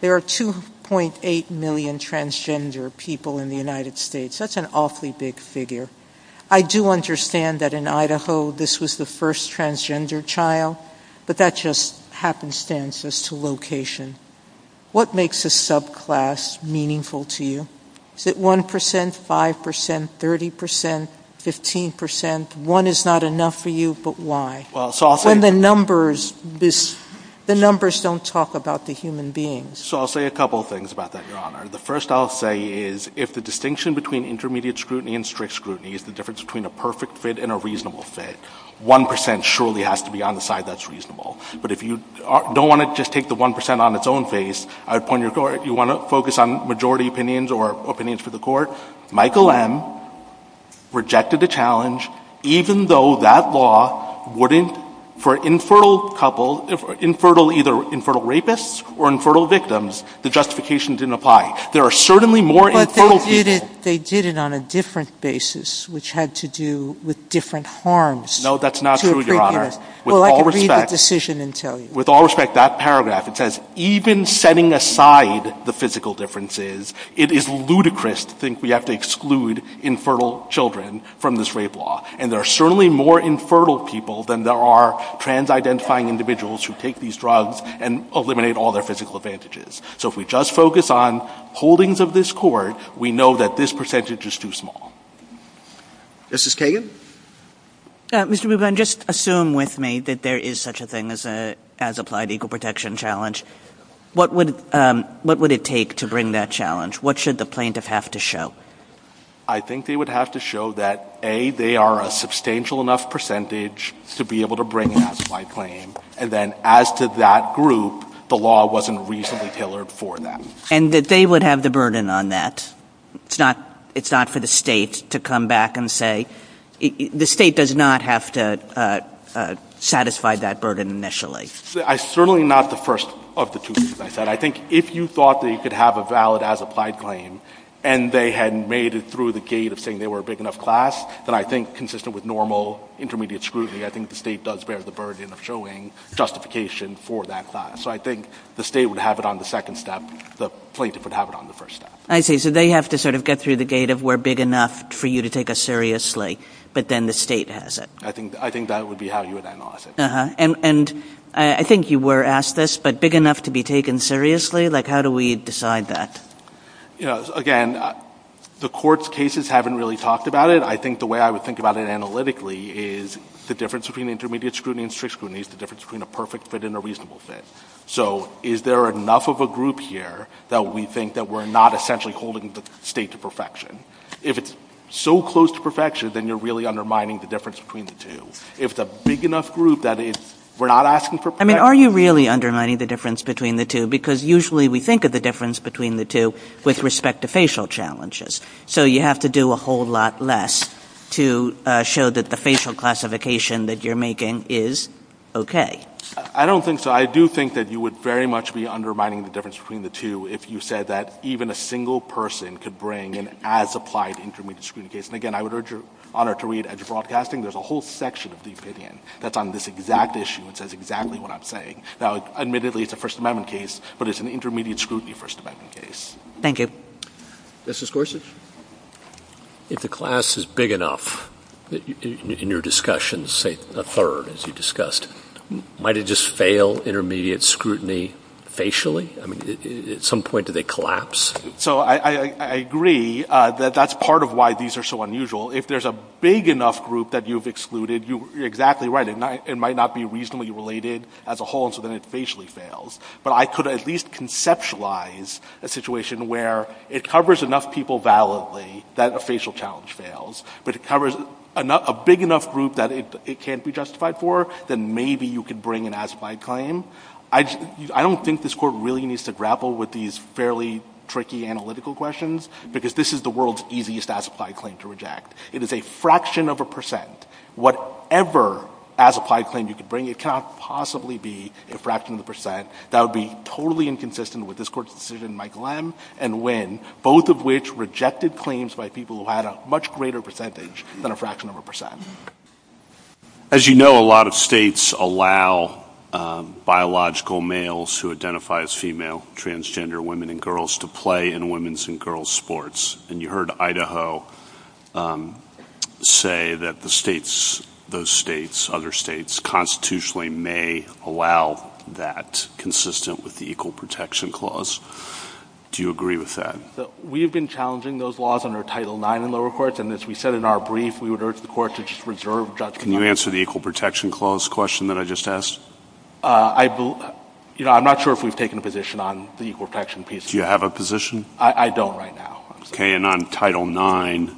There are 2.8 million transgender people in the United States. That's an awfully big figure. I do understand that in Idaho this was the first transgender child but that just happenstance as to location. What makes a subclass meaningful to you? Is it 1%? 5%? 30%? 15%? One is not enough for you but why? The numbers don't talk about the human beings. I'll say a couple of things about that Your Honor. The first I'll say is if the distinction between intermediate scrutiny and strict scrutiny is the difference between a perfect fit and a reasonable fit 1% surely has to be on the side that's reasonable. But if you don't want to just take the 1% on its own face, I'd point you toward if you want to focus on majority opinions or opinions for the court, Michael M rejected the challenge even though that law wouldn't for infertile couple, infertile either infertile rapists or infertile victims the justification didn't apply. There are certainly more infertile people But they did it on a different basis which had to do with different harms No that's not true Your Honor Well I can read the decision and tell you With all respect, that paragraph it says even setting aside the physical differences, it is ludicrous to think we have to exclude infertile children from this rape law and there are certainly more infertile people than there are trans-identifying individuals who take these drugs and eliminate all their physical advantages So if we just focus on holdings of this court, we know that this percentage is too small Mrs. Kagan Mr. Rubin, just assume with me that there is such a thing as applied equal protection challenge What would it take to bring that challenge? What should the plaintiff have to show? I think they would have to show that A, they are a substantial enough percentage to be able to bring an applied claim and then as to that group the law wasn't reasonably tailored for them. And that they would have the burden on that It's not for the state to come back and say, the state does not have to satisfy that burden initially I certainly am not the first of the two things I said. I think if you thought they could have a valid as applied claim and they had made it through the gate of saying they were a big enough class that I think consistent with normal intermediate scrutiny, I think the state does bear the burden of showing justification for that class. So I think the state would have it on the second step, the plaintiff would have it on the first step. I see, so they have to sort of get through the gate of we're big enough for you to take us seriously, but then the state has it. I think that would be how you would analyze it. And I think you were asked this, but big enough to be taken seriously, like how do we decide that? Again, the court's haven't really talked about it. I think the way I would think about it analytically is the difference between intermediate scrutiny and strict scrutiny is the difference between a perfect fit and a reasonable fit. So is there enough of a group here that we think that we're not essentially holding the state to perfection? If it's so close to perfection, then you're really undermining the difference between the two. If it's a big enough group that we're not asking for perfection I mean, are you really undermining the difference between the two? Because usually we think of the difference between the two with respect to facial challenges. So you have to do a whole lot less to show that the facial classification that you're making is okay. I don't think so. I do think that you would very much be undermining the difference between the two if you said that even a single person could bring an as-applied intermediate scrutiny case. And again, I would honor to read, as you're broadcasting, there's a whole section of the opinion that's on this exact issue that says exactly what I'm saying. Now, admittedly, it's a First Amendment case, but it's an intermediate scrutiny First Amendment case. Thank you. Mr. Scorsese, if the class is big enough, in your discussions, say a third as you discussed, might it just fail intermediate scrutiny facially? I mean, at some point do they collapse? I agree that that's part of why these are so unusual. If there's a big enough group that you've excluded, you're exactly right. It might not be reasonably related as a whole, so then it basically fails. But I could at least conceptualize a situation where it covers enough people validly that a facial challenge fails, but it covers a big enough group that it can't be justified for, then maybe you could bring an as-applied claim. I don't think this Court really needs to grapple with these fairly tricky analytical questions, because this is the world's easiest as-applied claim to reject. It is a fraction of a percent. Whatever as-applied claim you could bring, it cannot possibly be a fraction of a percent. That would be totally inconsistent with this Court's decision by Glenn and Wynn, both of which rejected claims by people who had a much greater percentage than a fraction of a percent. As you know, a lot of states allow biological males who identify as female, transgender women and girls, to play in women's and girls sports. And you heard Idaho say that the states, those states, other states, constitutionally may allow that consistent with the Equal Protection Clause. Do you agree with that? We've been challenging those laws under Title IX in the lower courts, and as we said in our brief, we would urge the Court to just reserve judgment. Can you answer the Equal Protection Clause question that I just asked? You know, I'm not sure if we've taken a position on the Equal Protection piece. Do you have a position? I don't right now. Okay, and on Title IX,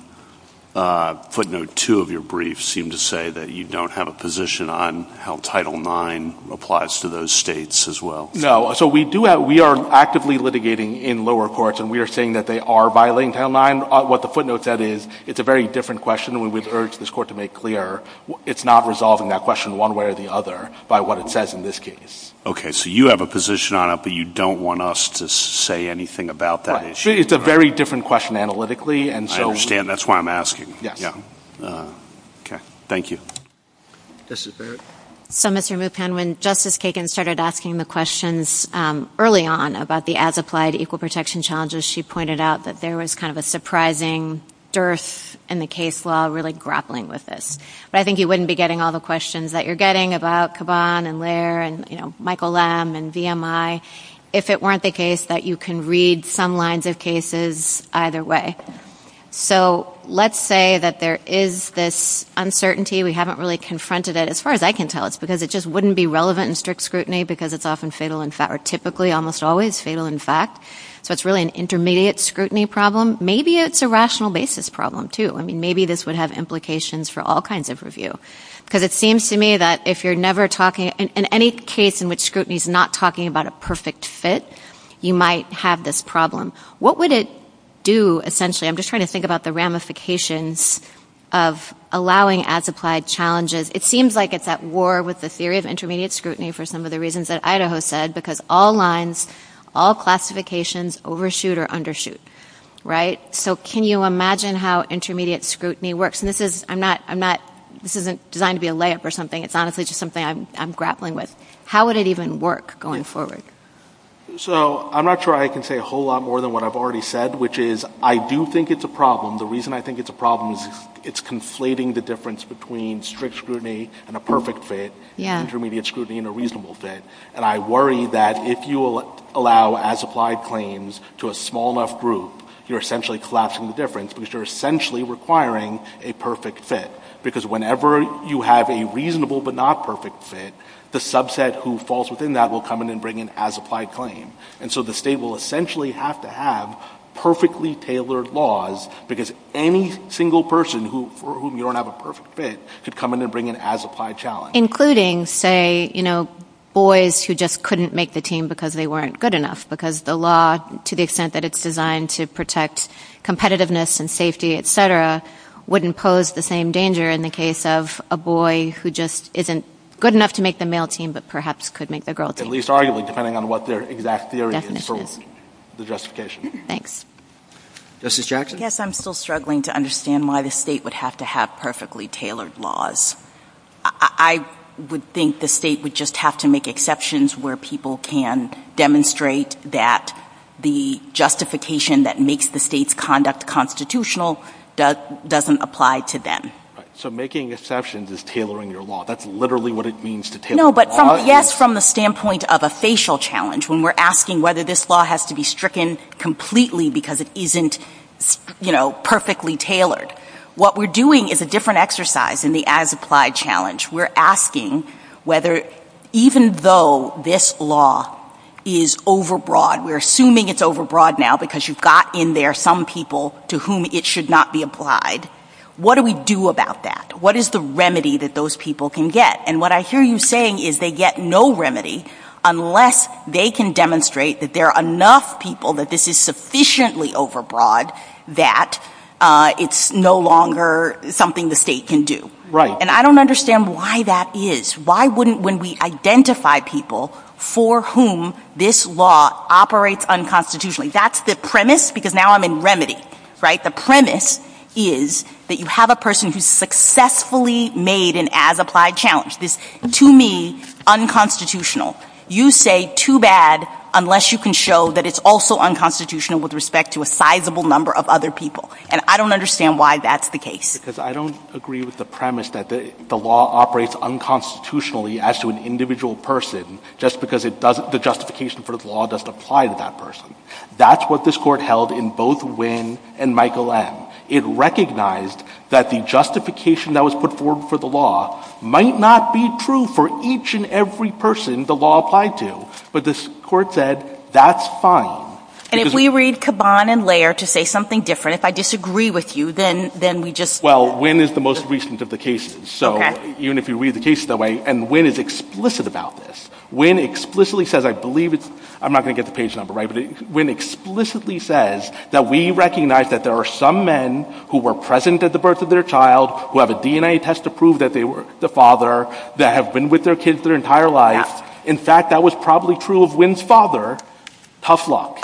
footnote 2 of your brief seemed to say that you don't have a position on how Title IX applies to those states as well. No, so we do have, we are actively litigating in lower courts, and we are saying that they are violating Title IX. What the footnote said is, it's a very different question, and we would urge this Court to make clear it's not resolving that question one way or the other by what it says in this case. Okay, so you have a position on it but you don't want us to say anything about that? It's a very different question analytically, and so... I understand, that's why I'm asking. Yeah. Okay. Thank you. Justice Barrett? So, Mr. Mupen, when Justice Kagan started asking the questions early on about the as-applied Equal Protection challenges, she pointed out that there was kind of a surprising dearth in the case law, really grappling with this. But I think you wouldn't be getting all the questions that you're getting about Caban and Lehr and, you know, Michael Lam and VMI, if it weren't the case that you can read some lines of cases either way. So, let's say that there is this uncertainty we haven't really confronted it, as far as I can tell, it's because it just wouldn't be relevant in strict scrutiny because it's often fatal in fact or typically almost always fatal in fact. So it's really an intermediate scrutiny problem. Maybe it's a rational basis problem, too. I mean, maybe this would have implications for all kinds of review. Because it seems to me that if you're never talking, in any case in which scrutiny is not talking about a perfect fit, you might have this problem. What would it do, essentially? I'm just trying to think about the ramifications of allowing as applied challenges. It seems like it's at war with the theory of intermediate scrutiny for some of the reasons that Idaho said, because all lines, all classifications overshoot or undershoot. Right? So can you imagine how intermediate scrutiny works? This isn't designed to be a layup or something. It's honestly just something I'm grappling with. How would it even work going forward? So I'm not sure I can say a whole lot more than what I've already said, which is I do think it's a problem. The reason I think it's a problem is it's conflating the difference between strict scrutiny and a perfect fit, intermediate scrutiny and a reasonable fit. And I worry that if you allow as applied claims to a small enough group, you're essentially collapsing the difference, because you're essentially requiring a perfect fit. Because whenever you have a reasonable but not perfect fit, the subset who falls within that will come in and bring an as applied claim. And so the state will essentially have to have perfectly tailored laws, because any single person for whom you don't have a perfect fit should come in and bring an as applied challenge. Including, say, you know, boys who just couldn't make the team because they weren't good enough, because the law, to the extent that it's designed to protect competitiveness and safety, etc., wouldn't pose the same danger in the case of a boy who just isn't good enough to make the male team but perhaps could make the girl team. At least arguably, depending on what their exact theory is for the justification. Thanks. Justice Jackson? Yes, I'm still struggling to understand why the state would have to have perfectly tailored laws. I would think the state would just have to make exceptions where people can demonstrate that the justification that makes the state's conduct constitutional doesn't apply to them. So making exceptions is tailoring your law. That's literally what it means to tailor the law. No, but from the standpoint of a facial challenge, when we're asking whether this law has to be stricken completely because it isn't perfectly tailored, what we're doing is a different exercise in the as applied challenge. We're asking whether even though this law is overbroad, we're assuming it's overbroad now because you've got in there some people to whom it should not be applied, what do we do about that? What is the remedy that those people can get? And what I hear you saying is they get no remedy unless they can demonstrate that there are enough people that this is sufficiently overbroad that it's no longer something the state can do. Right. And I don't understand why that is. Why wouldn't, when we identify people for whom this law operates unconstitutionally, that's the premise because now I'm in remedy, right? The premise is that you have a person who successfully made an as applied challenge. This, to me, unconstitutional. You say too bad unless you can show that it's also unconstitutional with respect to a sizable number of other people. And I don't understand why that's the case. Because I don't agree with the premise that the law operates unconstitutionally as to an individual person just because it doesn't, the justification for the law doesn't apply to that person. That's what this court held in both Wynne and Michael M. It recognized that the justification that was put forward for the law might not be true for each and every person the law applied to. But this court said, that's fine. And if we read Caban and Layer to say something different, if I disagree with you, then we just Well, Wynne is the most recent of the cases. So even if you read the case that way and Wynne is explicit about this. Wynne explicitly says, I believe it's I'm not going to get the page number right, but Wynne explicitly says that we recognize that there are some men who were present at the birth of their child who have a DNA test to prove that they were the father, that have been with their kids their entire lives. In fact, that was probably true of Wynne's father. Tough luck.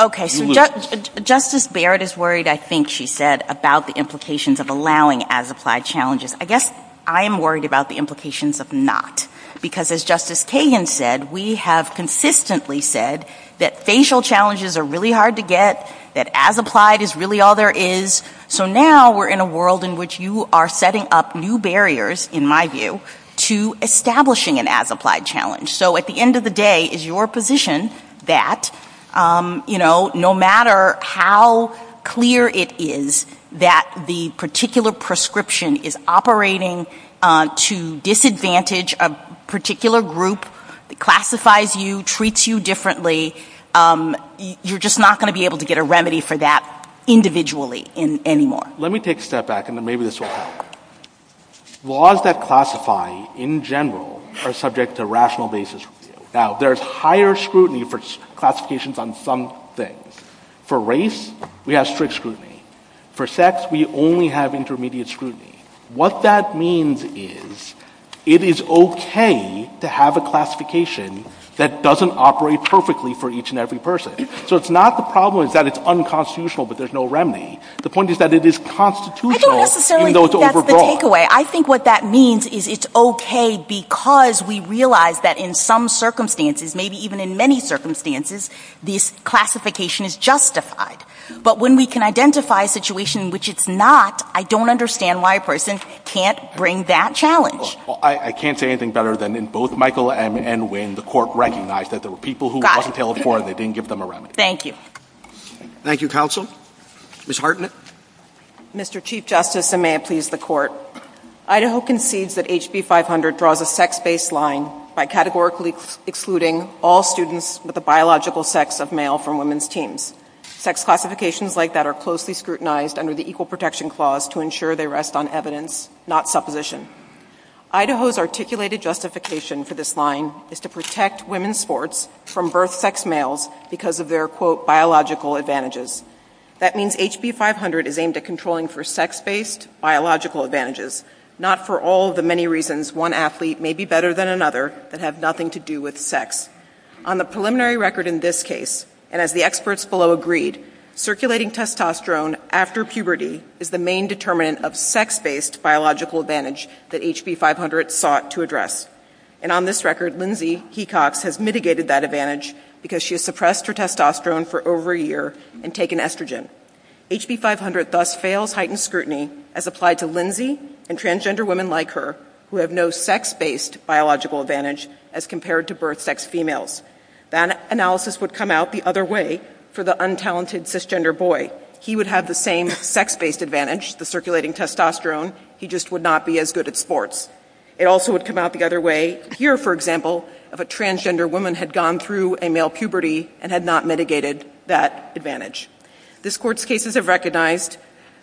Justice Barrett is worried, I think she said, about the implications of allowing as-applied challenges. I guess I'm worried about the implications of not. Because as Justice Cagan said, we have consistently said that facial challenges are really hard to get, that as-applied is really all there is. So now we're in a world in which you are setting up new barriers, in my view, to establishing an as-applied challenge. So at the end of the day is your position that no matter how clear it is that the particular prescription is operating to disadvantage a particular group that classifies you, treats you differently, you're just not going to be able to get a remedy for that individually anymore. Let me take a step back and then maybe this will help. Laws that classify in general are subject to rational basis review. There's higher scrutiny for classifications on some things. For race, we have strict scrutiny. For sex, we only have intermediate scrutiny. What that means is, it is okay to have a classification that doesn't operate perfectly for each and every person. So it's not the problem that it's unconstitutional but there's no remedy. The point is that it is constitutional even though it's overbroad. I think what that means is it's okay because we realize that in some circumstances, maybe even in many circumstances, this classification is justified. But when we can identify a situation in which it's not, I don't understand why a person can't bring that challenge. I can't say anything better than in both Michael and Wayne, the court recognized that there were people who were in California and they didn't give them a remedy. Thank you. Thank you, counsel. Ms. Hartnett? Mr. Chief Justice, and may it please the court, Idaho concedes that HB 500 draws a sex-based line by categorically excluding all students with a biological sex of male from women's teens. Sex classifications like that are closely scrutinized under the Equal Protection Clause to ensure they rest on evidence, not supposition. Idaho's articulated justification for this line is to protect women's sports from birth sex males because of their quote, biological advantages. That means HB 500 is aimed at controlling for sex-based biological advantages, not for all the many reasons one athlete may be better than another that have nothing to do with sex. On the preliminary record in this case, and as the experts below agreed, circulating testosterone after puberty is the main determinant of sex-based biological advantage that HB 500 sought to address. And on this record, Lindsay Hecox has mitigated that advantage because she has suppressed her testosterone for over a year and taken estrogen. HB 500 thus fails heightened scrutiny as applied to Lindsay and transgender women like her who have no sex-based biological advantage as compared to birth sex females. That analysis would come out the other way for the untalented cisgender boy. He would have the same sex-based advantage, the circulating testosterone, he just would not be as good at sports. It also would come out the other way here, for example, if a transgender woman had gone through a male puberty and had not mitigated that advantage. This court's cases have recognized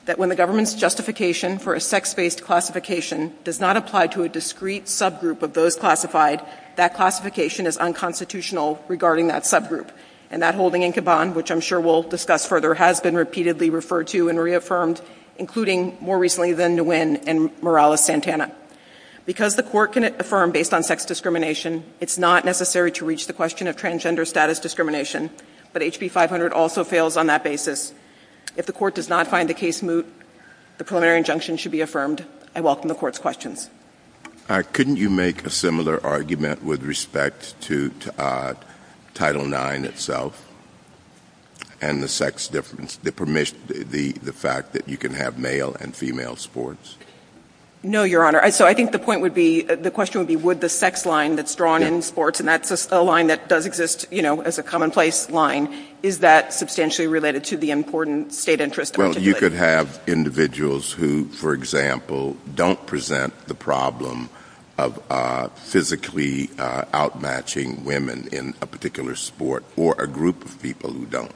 that when the government's justification for a sex-based classification does not apply to a discrete subgroup of those classified, that classification is unconstitutional regarding that subgroup. And that holding in Caban, which I'm sure we'll discuss further, has been repeatedly referred to and reaffirmed, including more recently than Nguyen and Morales-Santana. Because the court can affirm based on sex discrimination, it's not necessary to reach the question of transgender status discrimination, but HB 500 also fails on that basis. If the court does not find a case moot, the preliminary injunction should be affirmed. I welcome the court's questions. Couldn't you make a similar argument with respect to Title IX itself and the sex difference, the fact that you can have male and female sports? No, Your Honor. So I think the point would be, the question would be, would the sex line that's drawn in sports, and that's a line that does exist, you know, as a commonplace line, is that substantially related to the important state interest? Well, you could have individuals who, for example, don't present the problem of physically outmatching women in a particular sport, or a group of people who don't.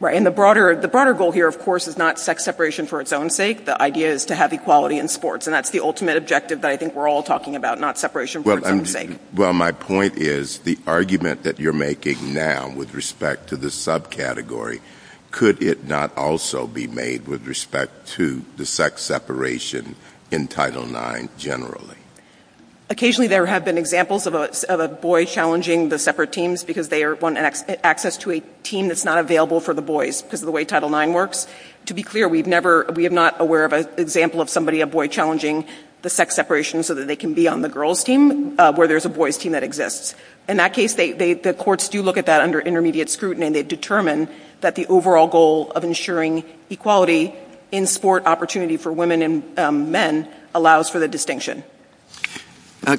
Right, and the broader goal here, of course, is not sex separation for its own sake. The idea is to have equality in sports, and that's the ultimate objective that I think we're all talking about, not separation for its own sake. Well, my point is the argument that you're making now with respect to the subcategory, could it not also be made with respect to the sex separation in Title IX generally? Occasionally there have been examples of a boy challenging the separate teams because they want access to a team that's not available for the boys, because of the way Title IX works. To be clear, we have not aware of an example of somebody, a boy, challenging the sex separation so that they can be on the girls' team where there's a boys' team that exists. In that case, the courts do look at that under intermediate scrutiny, and they determine that the overall goal of ensuring equality in sport opportunity for women and men allows for the distinction.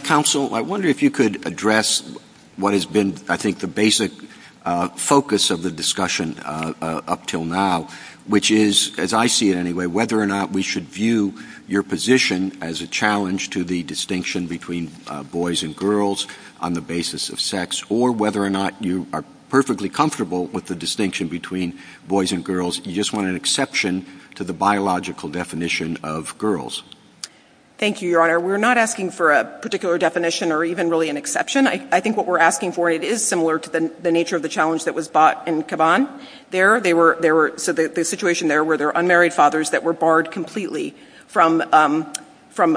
Counsel, I wonder if you could address what has been, I think, the basic focus of the discussion up till now, which is, as I see it anyway, whether or not we should view your position as a challenge to the distinction between boys and girls on the basis of sex, or whether or not you are perfectly comfortable with the distinction between boys and girls. You just want an exception to the biological definition of girls. Thank you, Your Honor. We're not asking for a particular definition or even really an exception. I think what we're asking for, and it is similar to the nature of the challenge that was brought in Caban. So the situation there were their unmarried fathers that were barred completely from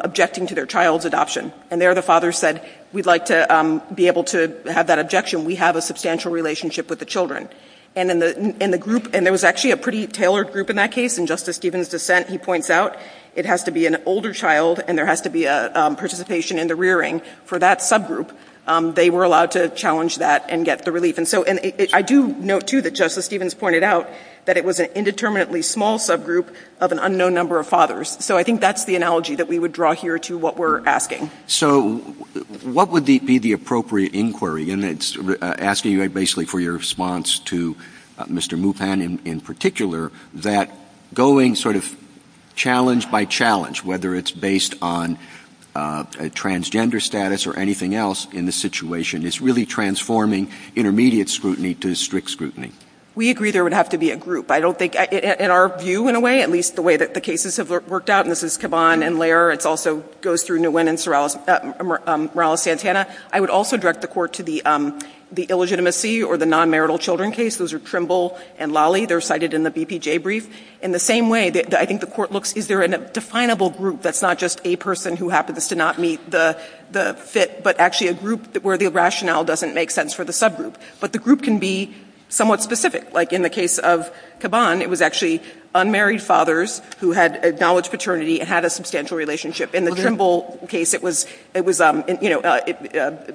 objecting to their child's adoption. And there the father said, we'd like to be able to have that objection. We have a substantial relationship with the children. And there was actually a pretty tailored group in that case. In Justice Stevens' dissent, he points out it has to be an older child and there has to be a participation in the rearing for that subgroup. They were allowed to challenge that and get the relief. And I do note, too, that Justice Stevens pointed out that it was an indeterminately small subgroup of an unknown number of fathers. So I think that's the analogy that we would draw here to what we're asking. So what would be the appropriate inquiry? And it's asking you basically for your response to Mr. Bupan in particular that going sort of challenge by challenge, whether it's based on a transgender status or anything else in the situation, is really transforming intermediate scrutiny to strict scrutiny. We agree there would have to be a group. I don't think in our view, in a way, at least the way that the cases have worked out, and this is Caban and Lehrer, it also goes through Nguyen and Morales-Santana. I would also direct the court to the illegitimacy or the non-marital children case. Those are Trimble and Lally. They're cited in the BPJ brief. In the same way, I think the court looks, is there a definable group that's not just a person who happens to not meet the fit, but actually a group where the rationale doesn't make sense for the subgroup? But the group can be somewhat specific. Like in the case of Caban, it was actually unmarried fathers who had acknowledged paternity and had a substantial relationship. In the Trimble case, it was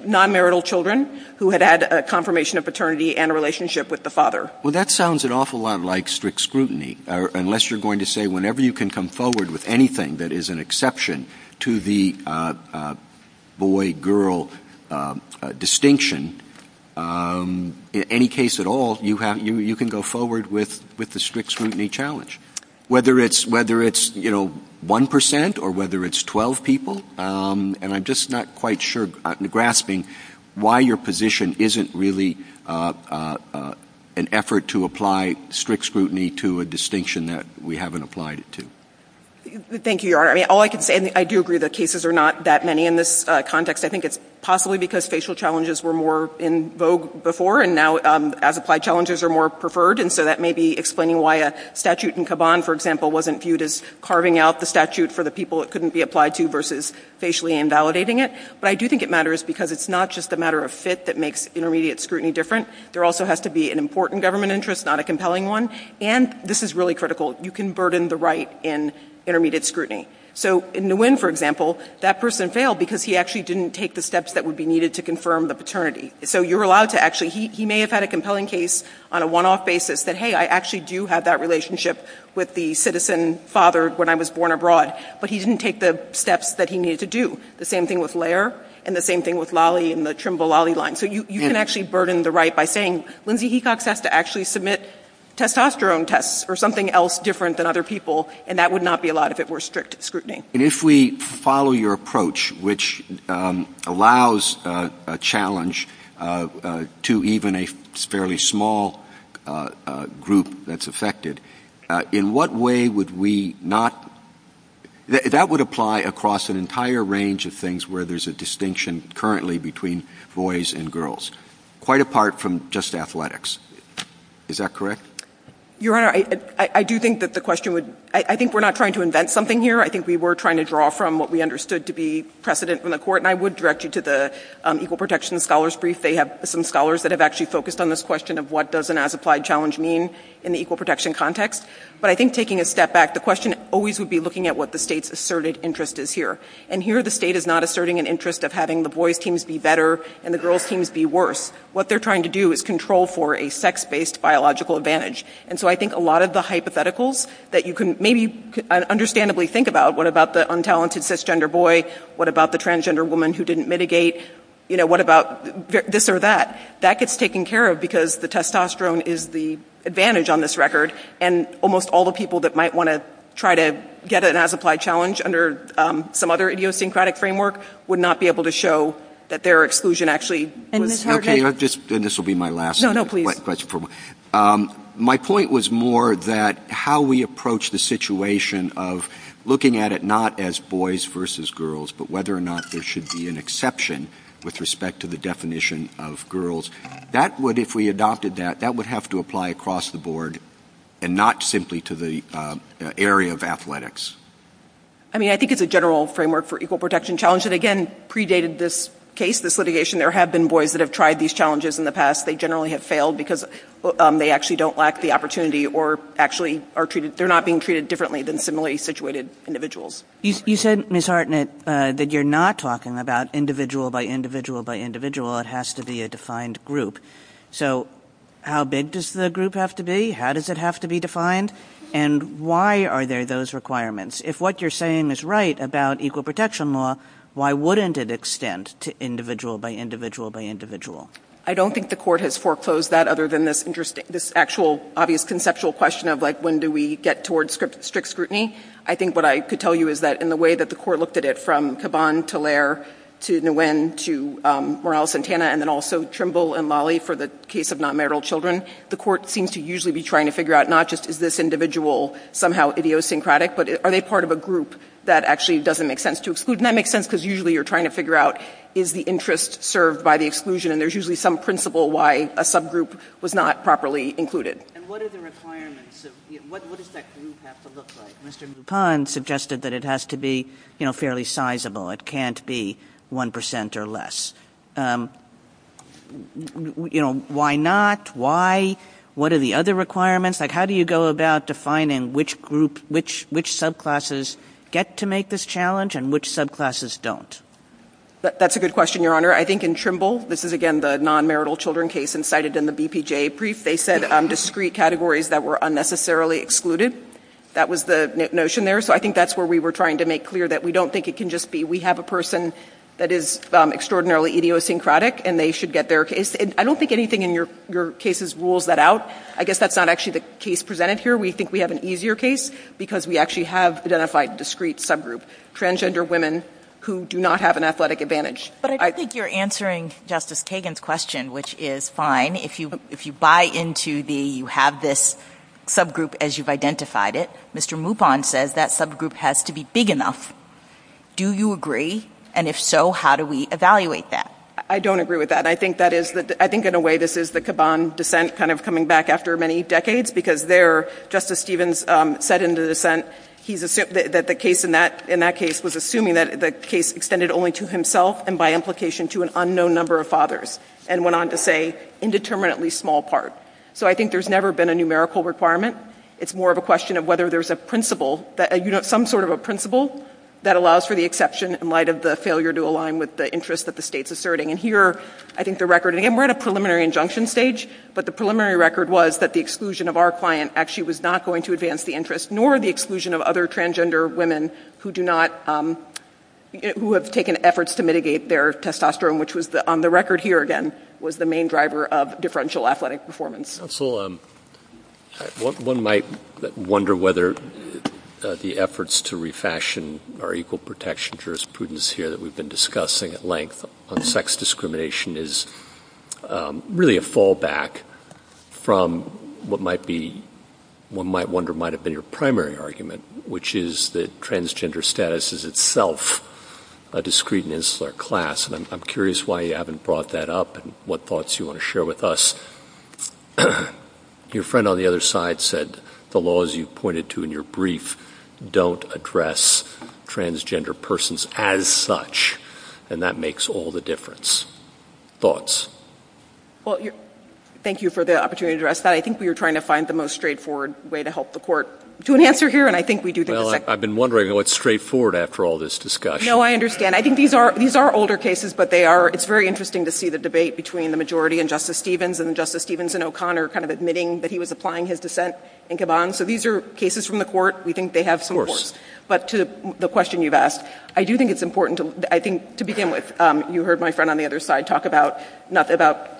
non-marital children who had a confirmation of paternity and a relationship with the father. Well, that sounds an awful lot like strict scrutiny, unless you're going to say whenever you can come forward with anything that is an exception to the boy-girl distinction, in any case at all, you can go forward with the strict scrutiny challenge. Whether it's 1% or whether it's 12 people, and I'm just not quite sure, grasping why your position isn't really an effort to apply strict scrutiny to a distinction that we haven't applied it to. Thank you, Your Honor. I do agree that cases are not that many in this context. I think it's possibly because facial challenges were more in vogue before, and now as-applied challenges are more preferred, and so that may be explaining why a statute in Caban, for example, wasn't viewed as carving out the statute for the people it couldn't be applied to versus facially invalidating it. But I do think it matters because it's not just a matter of fit that makes intermediate scrutiny different. There also has to be an important government interest, not a compelling one, and this is really critical. You can burden the right in intermediate scrutiny. So in Nguyen, for example, that person failed because he actually didn't take the steps that would be needed to confirm the paternity. So you're allowed to actually, he may have had a compelling case on a one-off basis that hey, I actually do have that relationship with the citizen father when I was born abroad, but he didn't take the steps that he needed to do. The same thing with Lair and the same thing with Lolly and the Trimble-Lolly line. So you can actually burden the right by saying, Lindsay, he got set to actually submit testosterone tests or something else different than other people, and that would not be allowed if it were strict scrutiny. And if we follow your approach, which allows a challenge to even a fairly small group that's affected, in what way would we not, that would apply across an entire range of things where there's a distinction currently between boys and girls, quite apart from just athletics. Is that correct? Your Honor, I do think that the question would, I think we're not trying to invent something here. I think we were trying to draw from what we understood to be precedent from the Court, and I would direct you to the Equal Protection Scholars Brief. They have some scholars that have actually focused on this question of what does an as-applied challenge mean in the equal protection context. But I think taking a step back, the question always would be looking at what the State's asserted interest is here. And here the State is not asserting an interest of having the boys' teams be better and the girls' teams be worse. What they're trying to do is control for a sex-based biological advantage. And so I think a lot of the hypotheticals that you can maybe understandably think about, what about the untalented cisgender boy, what about the transgender woman who didn't mitigate, you know, what about this or that, that gets taken care of because the testosterone is the advantage on this record, and almost all the people that might want to try to get an as-applied challenge under some other idiosyncratic framework would not be able to show that their exclusion actually... And this will be my last question. My point was more that how we approach the situation of looking at it not as boys versus girls, but whether or not there should be an exception with respect to the definition of girls. That would, if we were to look at it as boys versus girls, we would look at it as boys across the board and not simply to the area of athletics. I mean, I think it's a general framework for equal protection challenge that, again, predated this case, this litigation. There have been boys that have tried these challenges in the past. They generally have failed because they actually don't lack the opportunity or actually are treated... They're not being treated differently than similarly situated individuals. You said, Ms. Hartnett, that you're not talking about individual by individual by individual. It has to be a defined group. So how big does the group have to be? How does it have to be defined? And why are there those requirements? If what you're saying is right about equal protection law, why wouldn't it extend to individual by individual by individual? I don't think the court has foreclosed that, other than this actual, obvious conceptual question of, like, when do we get towards strict scrutiny? I think what I could tell you is that, in the way that the court looked at it, from Caban, to Lair, to Nguyen, to Morales-Santana, and then also Trimble and Lolly for the case of non-marital children, the court seems to usually be trying to figure out, not just is this individual somehow idiosyncratic, but are they part of a group that actually doesn't make sense to exclude? And that makes sense because usually you're trying to figure out, is the interest served by the exclusion? And there's usually some principle why a subgroup was not properly included. And what are the requirements? What does that need have to look like? Mr. Mouton suggested that it has to be fairly sizable. It can't be 1% or less. Why not? Why? What are the other requirements? How do you go about defining which subclasses get to make this challenge and which subclasses don't? That's a good question, Your Honor. I think in Trimble, this is, again, the non-marital children case incited in the BPJA brief, they said discreet categories that were unnecessarily excluded. That was the notion there. So I think that's where we were trying to make clear that we don't think it can just be, we have a person that is extraordinarily idiosyncratic, and they should get their case. And I don't think anything in your cases rules that out. I guess that's not actually the case presented here. We think we have an easier case because we actually have identified discrete subgroup, transgender women who do not have an athletic advantage. But I think you're answering Justice Kagan's question, which is fine. If you buy into the, you have this subgroup as you've identified it, Mr. Moupon says that subgroup has to be big enough. Do you agree? And if so, how do we evaluate that? I don't agree with that. I think that is, I think in a way this is the Kaban dissent kind of coming back after many decades because there Justice Stevens said in the dissent that the case in that case was assuming that the case extended only to himself and by implication to an unknown number of fathers and went on to say indeterminately small part. So I think there's never been a numerical requirement. It's more of a question of whether there's a principle that, some sort of a principle that allows for the exception in light of the failure to align with the interest that the state's asserting. And here, I think the record and we're at a preliminary injunction stage, but the preliminary record was that the exclusion of our client actually was not going to advance the interest nor the exclusion of other transgender women who do not, who have taken efforts to mitigate their testosterone, which was on the record here again, was the main driver of differential athletic performance. So one might wonder whether the efforts to refashion our equal protection jurisprudence here that we've been discussing at length on sex discrimination is really a fallback from what might be, one might wonder might have been your primary argument, which is that transgender status is itself a discreet and insular class, and I'm curious why you haven't brought that up and what thoughts you want to share with us. Your friend on the other side said the laws you pointed to in your brief don't address transgender persons as such, and that makes all the difference. Thoughts? Well, thank you for the opportunity to address that. I think we were trying to find the most straightforward way to help the court to an answer here, and I think we do. Well, I've been wondering what's straightforward after all this discussion. No, I understand. I think these are older cases, but it's very interesting to see the debate between the majority and Justice Stevens, and Justice Stevens and O'Connor kind of admitting that he was applying his dissent in Caban. So these are cases from the court. We think they have support. But to the question you've asked, I do think it's important to begin with, you heard my friend on the other side talk about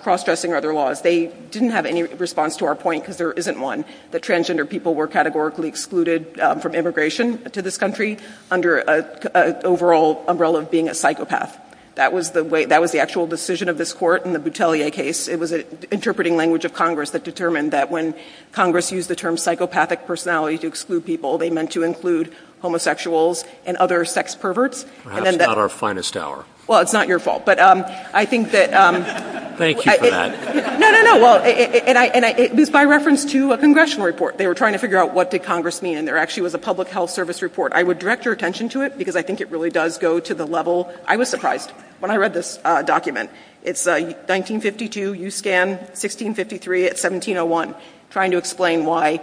cross-dressing or other laws. They didn't have any response to our point, because there isn't one, that transgender people were categorically excluded from immigration to this country under an overall umbrella of being a psychopath. That was the actual decision of this court in the Boutelier case. It was an interpreting language of Congress that determined that when Congress used the term psychopathic personality to exclude people, they meant to include homosexuals and other sex perverts. That's not our finest hour. Well, it's not your fault, but I think that... Thank you for that. No, no, no. This is by reference to a congressional report. They were trying to figure out what did Congress mean, and there actually was a public health service report. I would direct your attention to it, because I think it really does go to the level... I was surprised when I read this document. It's 1952, USCAN, 1653, 1701, trying to explain why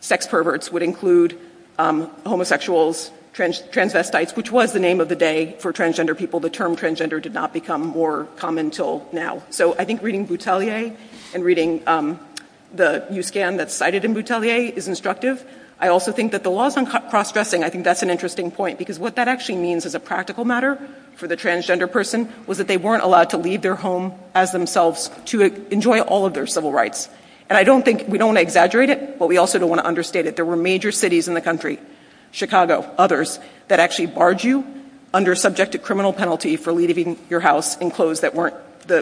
sex perverts would include homosexuals, transvestites, which was the name of the day for transgender people. The term transgender did not become more common until now. So I think reading Boutelier and reading the USCAN that's cited in Boutelier is instructive. I also think that the laws on cross-dressing, I think that's an interesting point, because what that actually means as a practical matter for the transgender person was that they weren't allowed to leave their home as themselves to enjoy all of their civil rights. And I don't think... We don't want to exaggerate it, but we also don't want to understand that there were major cities in the country, Chicago, others, that actually barred you under subjective criminal penalty for leaving your house in clothes that weren't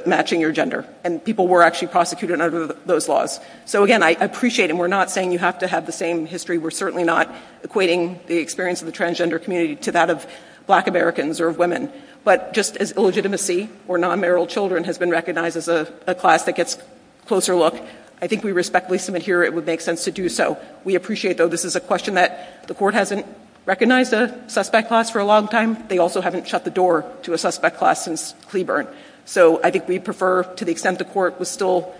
matching your gender. And people were actually prosecuted under those laws. So again, I appreciate it, and we're not saying you have to have the same history. We're certainly not equating the experience of the transgender community to that of black Americans or women. But just as illegitimacy or non-marital children has been recognized as a class that gets a closer look, I think we respectfully submit here it would make sense to do so. We appreciate, though, this is a question that the court hasn't recognized a suspect class for a long time. They also haven't shut the door to a suspect class since Cleburne. So I think we prefer, to the extent the court was still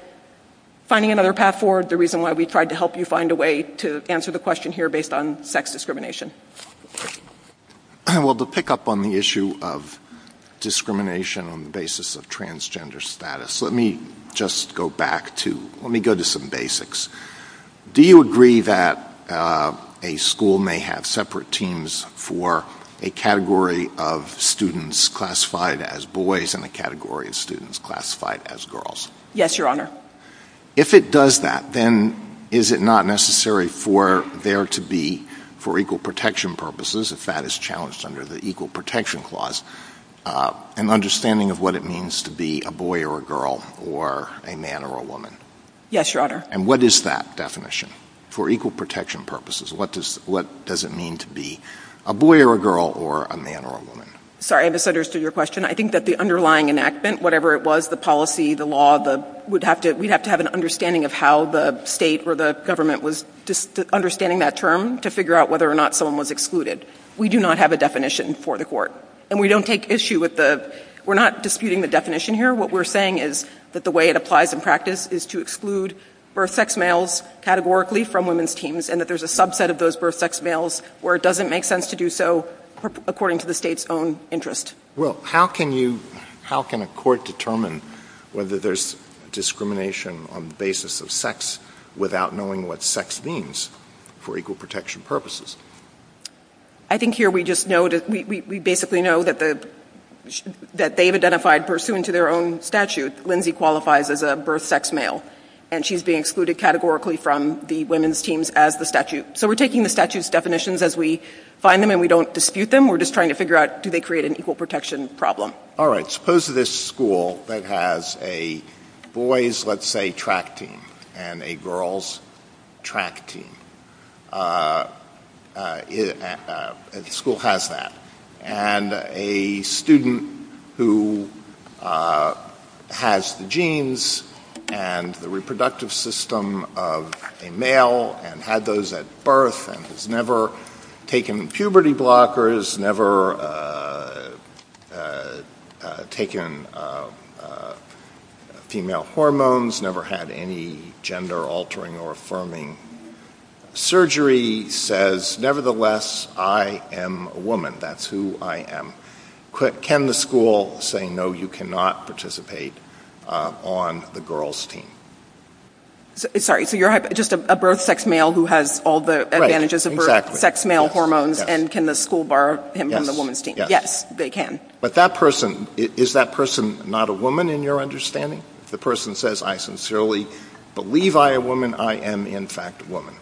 finding another path forward, the reason why we tried to help you find a way to answer the question here based on sex discrimination. Well, to pick up on the issue of discrimination on the basis of transgender status, let me just go back to... Let me go to some basics. Do you agree that a school may have separate teams for a category of students classified as boys and a category of students classified as girls? Yes, Your Honor. If it does that, then is it not necessary for there to be for equal protection purposes, if that is challenged under the Equal Protection Clause, an understanding of what it means to be a boy or a girl or a man or a woman? Yes, Your Honor. And what is that definition? For equal protection purposes, what does it mean to be a boy or a girl or a man or a woman? Sorry, I misunderstood your question. I think that the underlying enactment, whatever it was, the policy, the law, we'd have to have an understanding of how the state or the government was understanding that term to figure out whether or not someone was excluded. We do not have a definition for the Court. And we don't take issue with the... We're not disputing the definition here. What we're saying is that the way it applies in practice is to exclude birth sex males categorically from women's teams and that there's a subset of those birth sex males where it doesn't make sense to do so according to the state's own interest. Well, how can you... How can a court determine whether there's discrimination on the basis of sex without knowing what sex means for equal protection purposes? I think here we just know... We basically know that they've identified, pursuant to their own statute, Lindsay qualifies as a birth sex male, and she's being excluded categorically from the women's teams as the statute. So we're taking the statute's definitions as we find them and we don't dispute them. We're just trying to figure out, do they create an equal protection problem? Suppose this school that has a boy's, let's say, track team and a girl's track team. The school has that. And a student who has the genes and the reproductive system of a male and had those at birth and has never taken puberty blockers, taken female hormones, never had any gender-altering or affirming surgery says, nevertheless, I am a woman. That's who I am. Can the school say, no, you cannot participate on the girl's team? Sorry, so you're just a birth sex male who has all the advantages of birth sex male hormones, and can the school borrow him from the women's team? Yes, they can. But that person, is that person not a woman in your understanding? If the person says, I sincerely believe I am a woman, I am in fact a woman.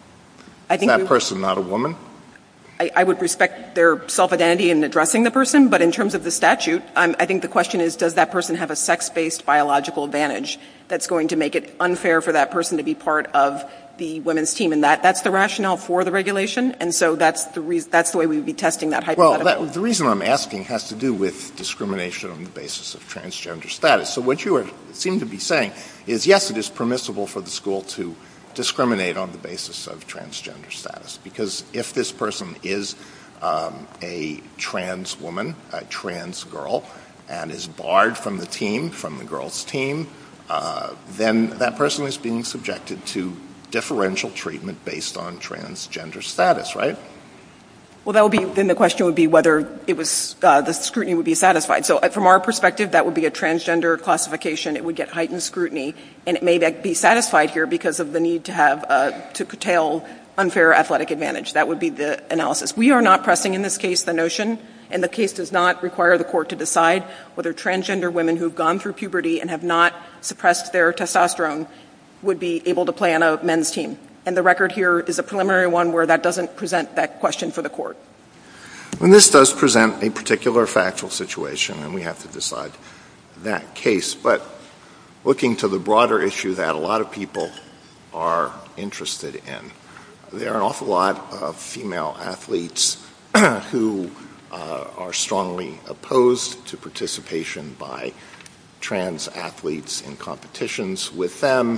Is that person not a woman? I would respect their self-identity in addressing the person, but in terms of the statute, I think the question is, does that person have a sex-based biological advantage that's going to make it unfair for that person to be part of the women's team? And that's the rationale for the regulation, and so that's the way we would be testing that hypothetical. Well, the reason I'm asking has to do with discrimination on the basis of transgender status. So what you seem to be saying is, yes, it is permissible for the school to discriminate on the basis of transgender status, because if this person is a trans woman, a trans girl, and is barred from the team, from the girls' team, then that person is being subjected to differential treatment based on transgender status, right? Well, then the question would be whether the scrutiny would be satisfied. So from our perspective, that would be a transgender classification. It would get heightened scrutiny, and it may not be satisfied here because of the need to curtail unfair athletic advantage. That would be the analysis. We are not pressing in this case the notion, and the case does not require the court to decide whether transgender women who have gone through puberty and have not suppressed their testosterone would be able to play on a men's team. And the record here is a preliminary one where that doesn't present that question for the court. This does present a particular factual situation, and we have to decide that case, but looking to the broader issue that a lot of people are interested in, there are an awful lot of female athletes who are strongly opposed to participation by trans athletes in competitions with them.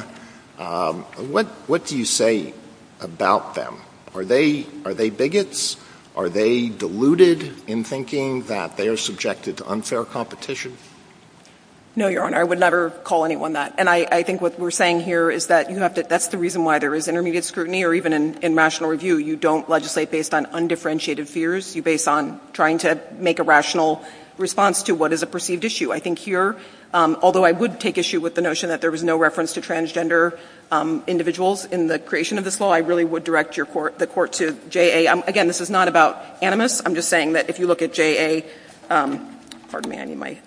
What do you say about them? Are they bigots? Are they deluded in thinking that they are subjected to unfair competition? No, Your Honor, I would never call anyone that. And I think what we're saying here is that that's the reason why there is intermediate scrutiny or even in rational review, you don't legislate based on undifferentiated fears. You base on trying to make a rational response to what is a perceived issue. I think here, although I would take issue with the notion that there was no reference to transgender individuals in the creation of this law, I really would direct the court to JA. Again, this is not about animus. I'm just saying that if you look at JA 105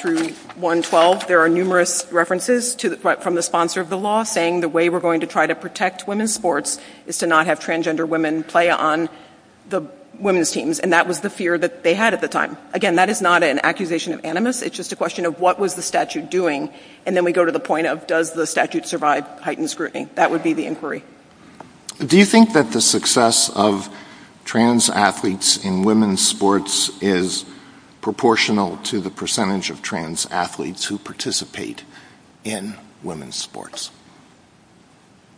through 112, there are numerous references from the sponsor of the law saying the way we're going to try to protect women's sports is to not have transgender women play on the women's teams, and that was the fear that they had at the time. Again, that is not an accusation of animus. It's just a question of what was the statute doing? And then we go to the point of does the statute survive heightened scrutiny? That would be the inquiry. Do you think that the success of trans athletes in women's sports is proportional to the percentage of trans athletes who participate in women's sports?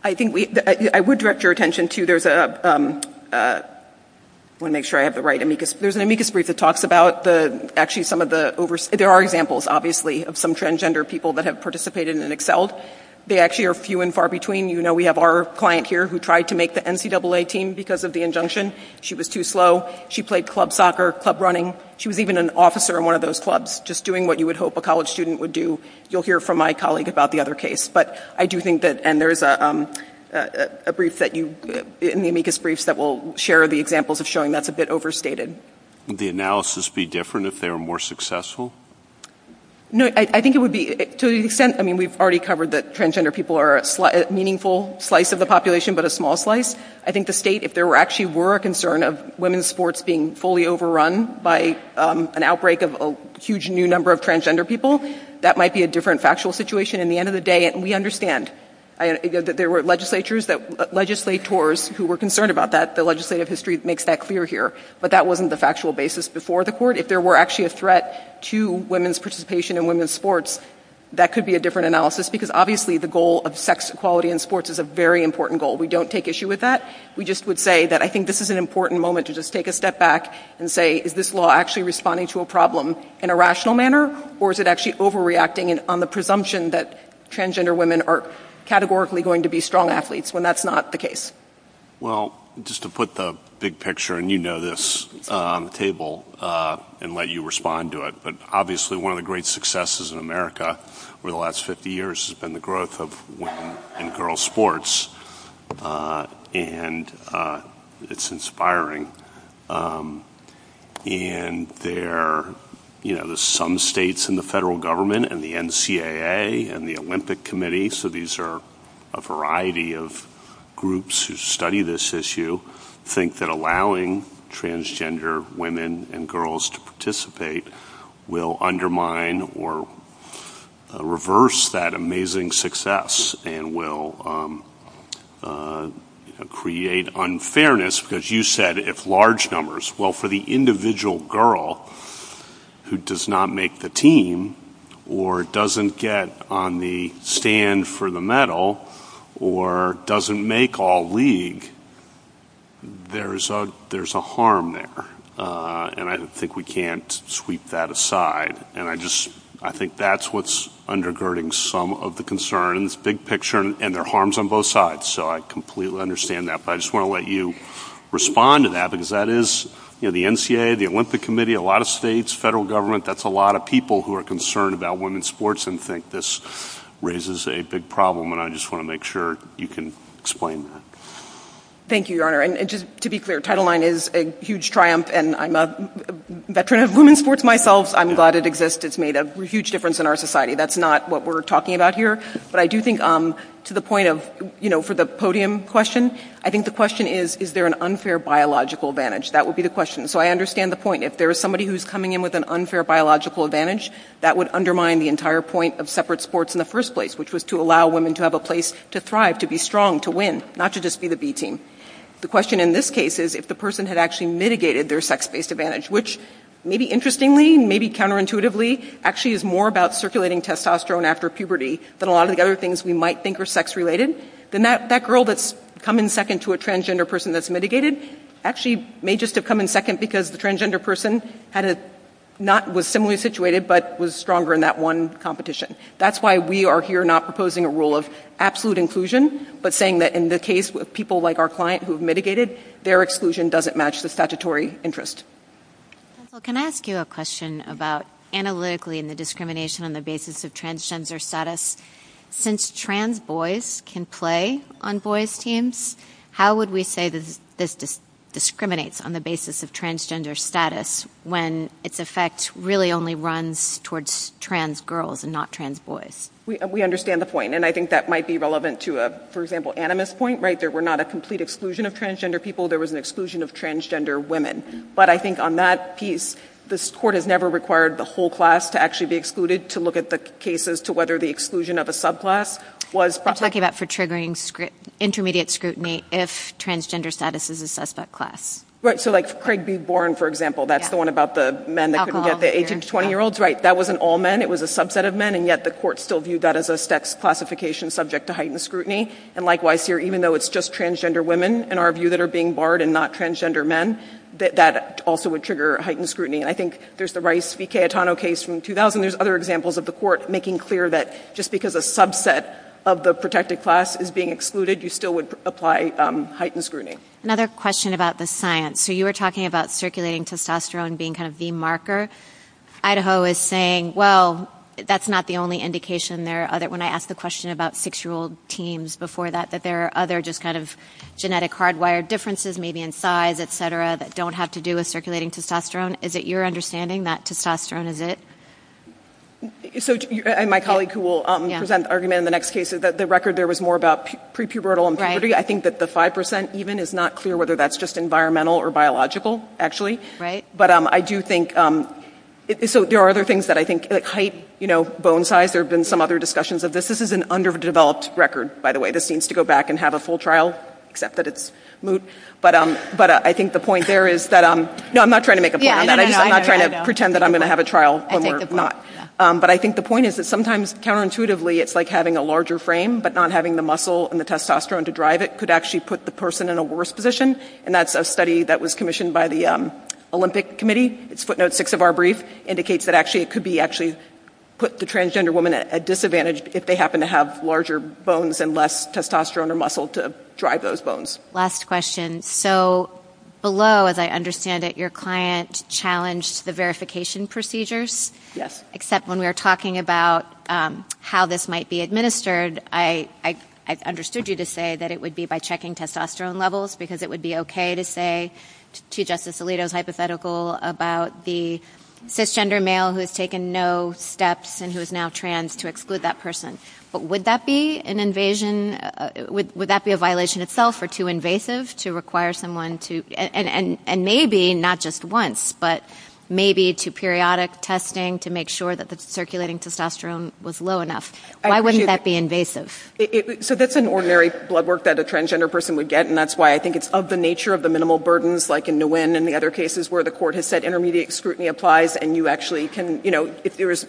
I would direct your attention to there's an amicus brief that talks about actually some of the there are examples, obviously, of some transgender people that have participated and excelled. They actually are few and far between. We have our client here who tried to make the NCAA team because of the injunction. She was too slow. She played club soccer, club running. She was even an officer in one of those clubs just doing what you would hope a college student would do. You'll hear from my colleague about the other case. There's a brief in the amicus brief that will share the examples of showing that's a bit overstated. Would the analysis be different if they were more successful? No, I think it would be to the extent, I mean, we've already covered that transgender people are a meaningful slice of the population, but a small slice. I think the state, if there actually were a concern of women's sports being fully overrun by an outbreak of a huge new number of transgender people, that might be a different factual situation. At the end of the day, we understand that there were legislators who were concerned about that. The legislative history makes that clear here. But that wasn't the factual basis before the court. If there were actually a threat to women's participation in women's sports, that could be a different analysis because, obviously, the goal of sex equality in sports is a very important goal. We don't take issue with that. We just would say that I think this is an important moment to just take a step back and say, is this law actually responding to a problem in a rational manner, or is it actually overreacting on the presumption that transgender women are categorically going to be strong athletes when that's not the case? Well, just to put the big picture, and you know this on the table, and let you respond to it, but obviously one of the great successes in America over the last 50 years has been the growth of women and girls sports, and it's inspiring. And there are some states in the federal government and the NCAA and the Olympic Committee, so these are a variety of groups who study this issue, think that allowing transgender women and girls to participate will undermine or reverse that amazing success and will create unfairness, because you said if large numbers, well for the individual girl who does not make the team, or doesn't get on the stand for the medal, or doesn't make all league, there's a harm there. And I think we can't sweep that aside, and I think that's what's undergirding some of the concerns, big picture, and there are harms on both sides, so I completely understand that, but I just want to let you respond to that, because that is, you know, the NCAA, the Olympic Committee, a lot of states, federal government, that's a lot of people who are concerned about women's sports and think this raises a big problem, and I just want to make sure you can explain that. Thank you, Your Honor, and just to be clear, Title IX is a huge triumph, and I'm a veteran of women's sports myself, I'm glad it exists, it's made a huge difference in our society, that's not what we're talking about here, but I do think to the point of, you know, for the podium question, I think the question is, is there an unfair biological advantage, that would be the question, so I understand the point, if there's somebody who's coming in with an unfair biological advantage, that would undermine the entire point of separate sports in the first place, which was to allow women to have a place to thrive, to be strong, to win, not to just be the B team. The question in this case is if the person had actually mitigated their sex-based advantage, which, maybe interestingly, maybe counterintuitively, actually is more about circulating testosterone after puberty, than a lot of the other things we might think are sex-related, then that girl that's come in second to a transgender person that's mitigated, actually may just have come in second because the transgender person had a, not, was similarly situated, but was stronger in that one competition. That's why we are here not proposing a rule of absolute inclusion, but saying that in the case of people like our client who have mitigated, their exclusion doesn't match the statutory interest. Can I ask you a question about, analytically, in the discrimination on the basis of transgender status, since trans boys can play on boys' teams, how would we say that this discriminates on the basis of transgender status when its effect really only runs towards trans girls and not trans boys? We understand the point, and I think that might be relevant to a, for example, animus point, right? There were not a complete exclusion of transgender people, there was an exclusion of transgender women, but I think on that piece, this court has never required the whole class to actually be excluded to look at the cases to whether the exclusion of a subclass was... I was talking about for triggering intermediate scrutiny if transgender status is a suspect class. Right, so like Craig B. Boren, for example, that's the one about the men that couldn't get the age of 20-year-olds, right, that wasn't all men, it was a subset of men, and yet the court still viewed that as a sex classification subject to heightened scrutiny, and likewise here, even though it's just transgender women, in our view, that are being barred and not transgender men, that also would trigger heightened scrutiny, and I think there's the Rice v. Cayetano case from 2000, there's other examples of the court making clear that just because a subset of the protected class is being excluded, you still would apply heightened scrutiny. Another question about the science. So you were talking about circulating testosterone being kind of the marker. Idaho is saying, well, that's not the only indication. When I asked the question about six-year-old teens before that, that there are other just kind of genetic hardwired differences, maybe in size, et cetera, that don't have to do with circulating testosterone. Is it your understanding that testosterone is it? My colleague who will present argument in the next case is that the record there was more about pre-pubertal impoverty. I think that the 5% even is not clear whether that's just environmental or biological, actually. But I do think, so there are other things that I think, like height, bone size, there have been some other discussions of this. This is an underdeveloped record, by the way. This needs to go back and have a full trial, except that it's moot. But I think the point there is that no, I'm not trying to make a point on that. I'm not trying to pretend that I'm going to have a trial. But I think the point is that sometimes counterintuitively, it's like having a larger frame, but not having the muscle and the testosterone to drive it could actually put the person in a worse position. And that's a study that was commissioned by the Olympic Committee. Its footnote 6 of our brief indicates that actually it could be actually put the transgender woman at a disadvantage if they happen to have larger bones and less testosterone and muscle to drive those bones. Last question. So below, as I understand it, your client challenged the verification procedures? Yes. Except when we were talking about how this might be administered, I understood you to say that it would be by checking testosterone levels, because it would be okay to say to Justice Alito's hypothetical about the cisgender male who has taken no steps and who is now trans to exclude that person. But would that be an invasion? Would that be a violation itself or too invasive to require someone to, and maybe not just once, but maybe to periodic testing to make sure that the circulating testosterone was low enough? Why wouldn't that be invasive? So that's an ordinary blood work that a transgender person would get, and that's why I think it's of the nature of the minimal burdens like in Nguyen and the other cases where the court has said intermediate scrutiny applies and you actually can, you know, if there is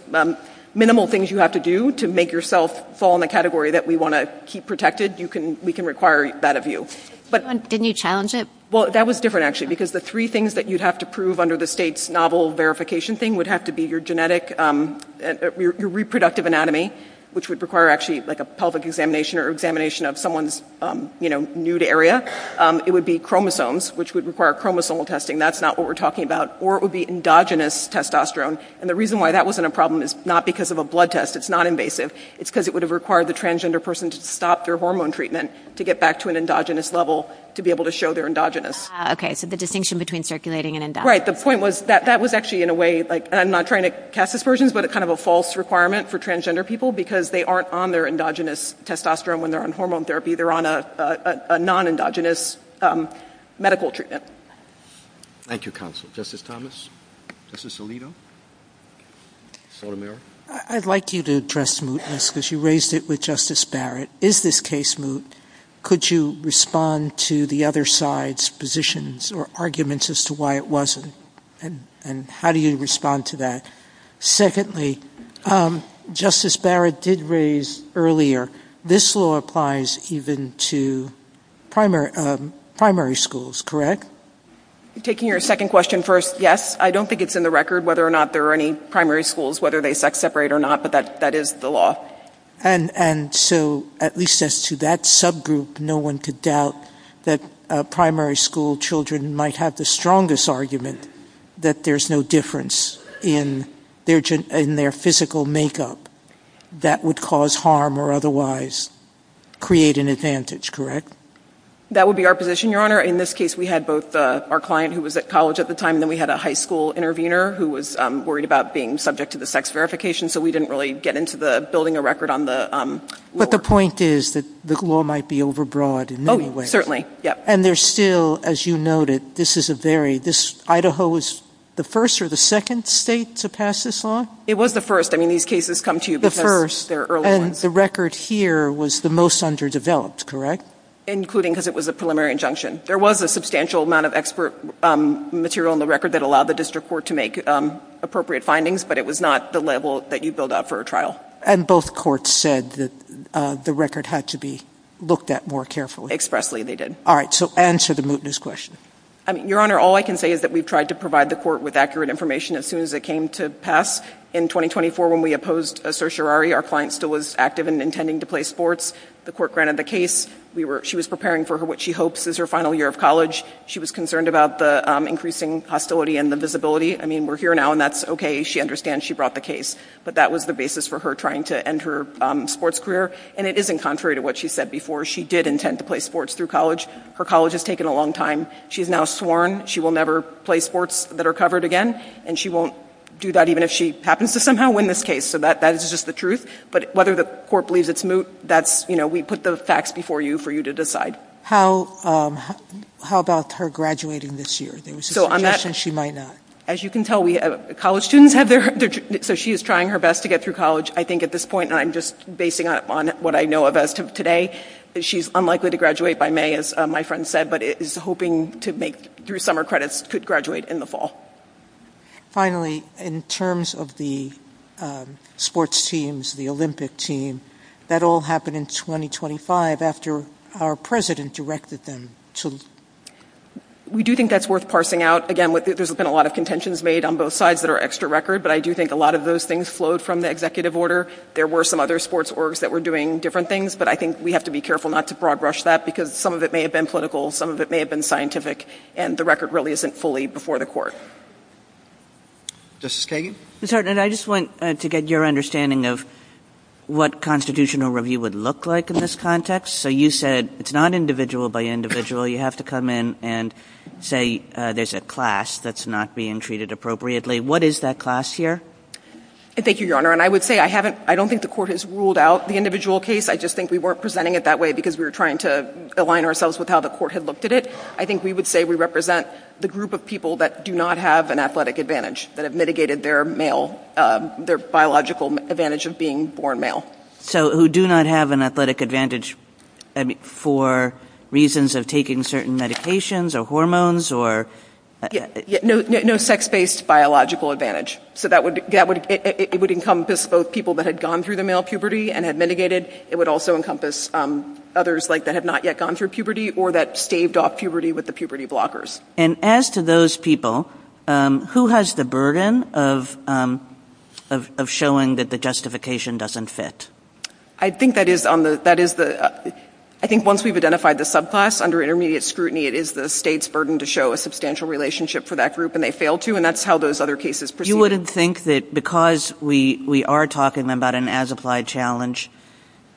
minimal things you have to do to make yourself fall in the category that we want to keep protected, we can require that of you. Didn't you challenge it? Well, that was different actually, because the three things that you'd have to prove under the state's novel verification thing would have to be your genetic, your reproductive anatomy, which would require actually like a pelvic examination or examination of someone's, you know, nude area. It would be chromosomes, which would require chromosomal testing. That's not what we're talking about. Or it would be endogenous testosterone. And the reason why that wasn't a problem is not because of a blood test. It's not invasive. It's because it would have required the transgender person to stop their hormone treatment to get back to an endogenous level to be able to show they're endogenous. Okay, so the distinction between circulating and endogenous. Right, the point was that that was actually in a way like, and I'm not trying to cast aspersions, but it's kind of a false requirement for transgender people because they aren't on their endogenous testosterone when they're on hormone therapy. They're on a non-endogenous medical treatment. Thank you, counsel. Justice Thomas? Justice Alito? I'd like you to address this because you raised it with Justice Barrett. Is this case moot? Could you respond to the other side's positions or arguments as to why it wasn't? And how do you respond to that? Secondly, Justice Barrett did raise earlier this law applies even to primary schools, correct? Taking your second question first, yes, I don't think it's in the record whether or not there are any primary schools, whether they sex separate or not, but that is the law. And so at least as to that subgroup, no one could doubt that primary school children might have the strongest argument that there's no difference in their physical makeup that would cause harm or otherwise create an advantage, correct? That would be our position, Your Honor. In this case, we had both our client who was at college at the time, and then we had a high school intervener who was worried about being subject to the sex verification, so we didn't really get into the building a record on the law. But the point is that the law might be overbroad in many ways. Oh, certainly. And there's still, as you noted, this is a very, this, Idaho is the first or the second state to pass this law? It was the first. I mean, these cases come to you because they're early ones. And the record here was the most underdeveloped, correct? Including because it was a preliminary injunction. There was a substantial amount of expert material in the record that allowed the district court to make appropriate findings, but it was not the level that you build out for a trial. And both courts said that the record had to be looked at more carefully. Expressly, they did. All right, so answer the mootness question. Your Honor, all I can say is that we've tried to provide the court with accurate information as soon as it came to pass. In 2024, when we opposed certiorari, our client still was active in intending to play sports. The court granted the case. She was preparing for what she hopes is her final year of college. She was concerned about the increasing hostility and the visibility. I mean, we're here now, and that's okay. She understands. She brought the case. But that was the basis for her trying to end her sports career. And it isn't contrary to what she said before. She did intend to play sports through college. Her college has taken a long time. She's now sworn she will never play sports that are covered again, and she won't do that even if she happens to somehow win this case. So that is just the truth. But whether the court believes it's moot, that's, you know, we put those facts before you for you to decide. How about her graduating this year? There was a suggestion she might not. As you can tell, college students have their so she is trying her best to get through college. I think at this point, and I'm just basing it on what I know of as of today, that she's unlikely to graduate by May, as my friend said, but is hoping to make through summer credits to graduate in the fall. Finally, in terms of the sports teams, the Olympic team, that all happened in 2025 after our president directed them to leave. We do think that's worth parsing out. Again, there's been a lot of contentions made on both sides that are extra record, but I do think a lot of those things flowed from the executive order. There were some other sports orgs that were doing different things, but I think we have to be careful not to broad brush that because some of it may have been political, some of it may have been scientific, and the record really isn't fully before the court. Justice Kagan? I just want to get your understanding of what constitutional review would look like in this context. You said it's not individual by individual. You have to come in and say there's a class that's not being treated appropriately. What is that class here? Thank you, Your Honor. I would say I don't think the court has ruled out the individual case. I just think we weren't presenting it that way because we were trying to align ourselves with how the court had looked at it. I think we would say we represent the group of people that do not have an athletic advantage, that have mitigated their biological advantage of being born male. Who do not have an athletic advantage for reasons of taking certain medications or hormones? No sex-based biological advantage. It would encompass both people that had gone through the male puberty and had mitigated. It would also encompass others that have not yet gone through puberty or that staved off puberty with the puberty blockers. As to those people, who has the burden of showing that the justification doesn't fit? I think once we've identified the subclass under intermediate scrutiny, it is the state's burden to show a substantial relationship for that group, and they fail to, and that's how those other cases proceed. You wouldn't think that because we are talking about an as-applied challenge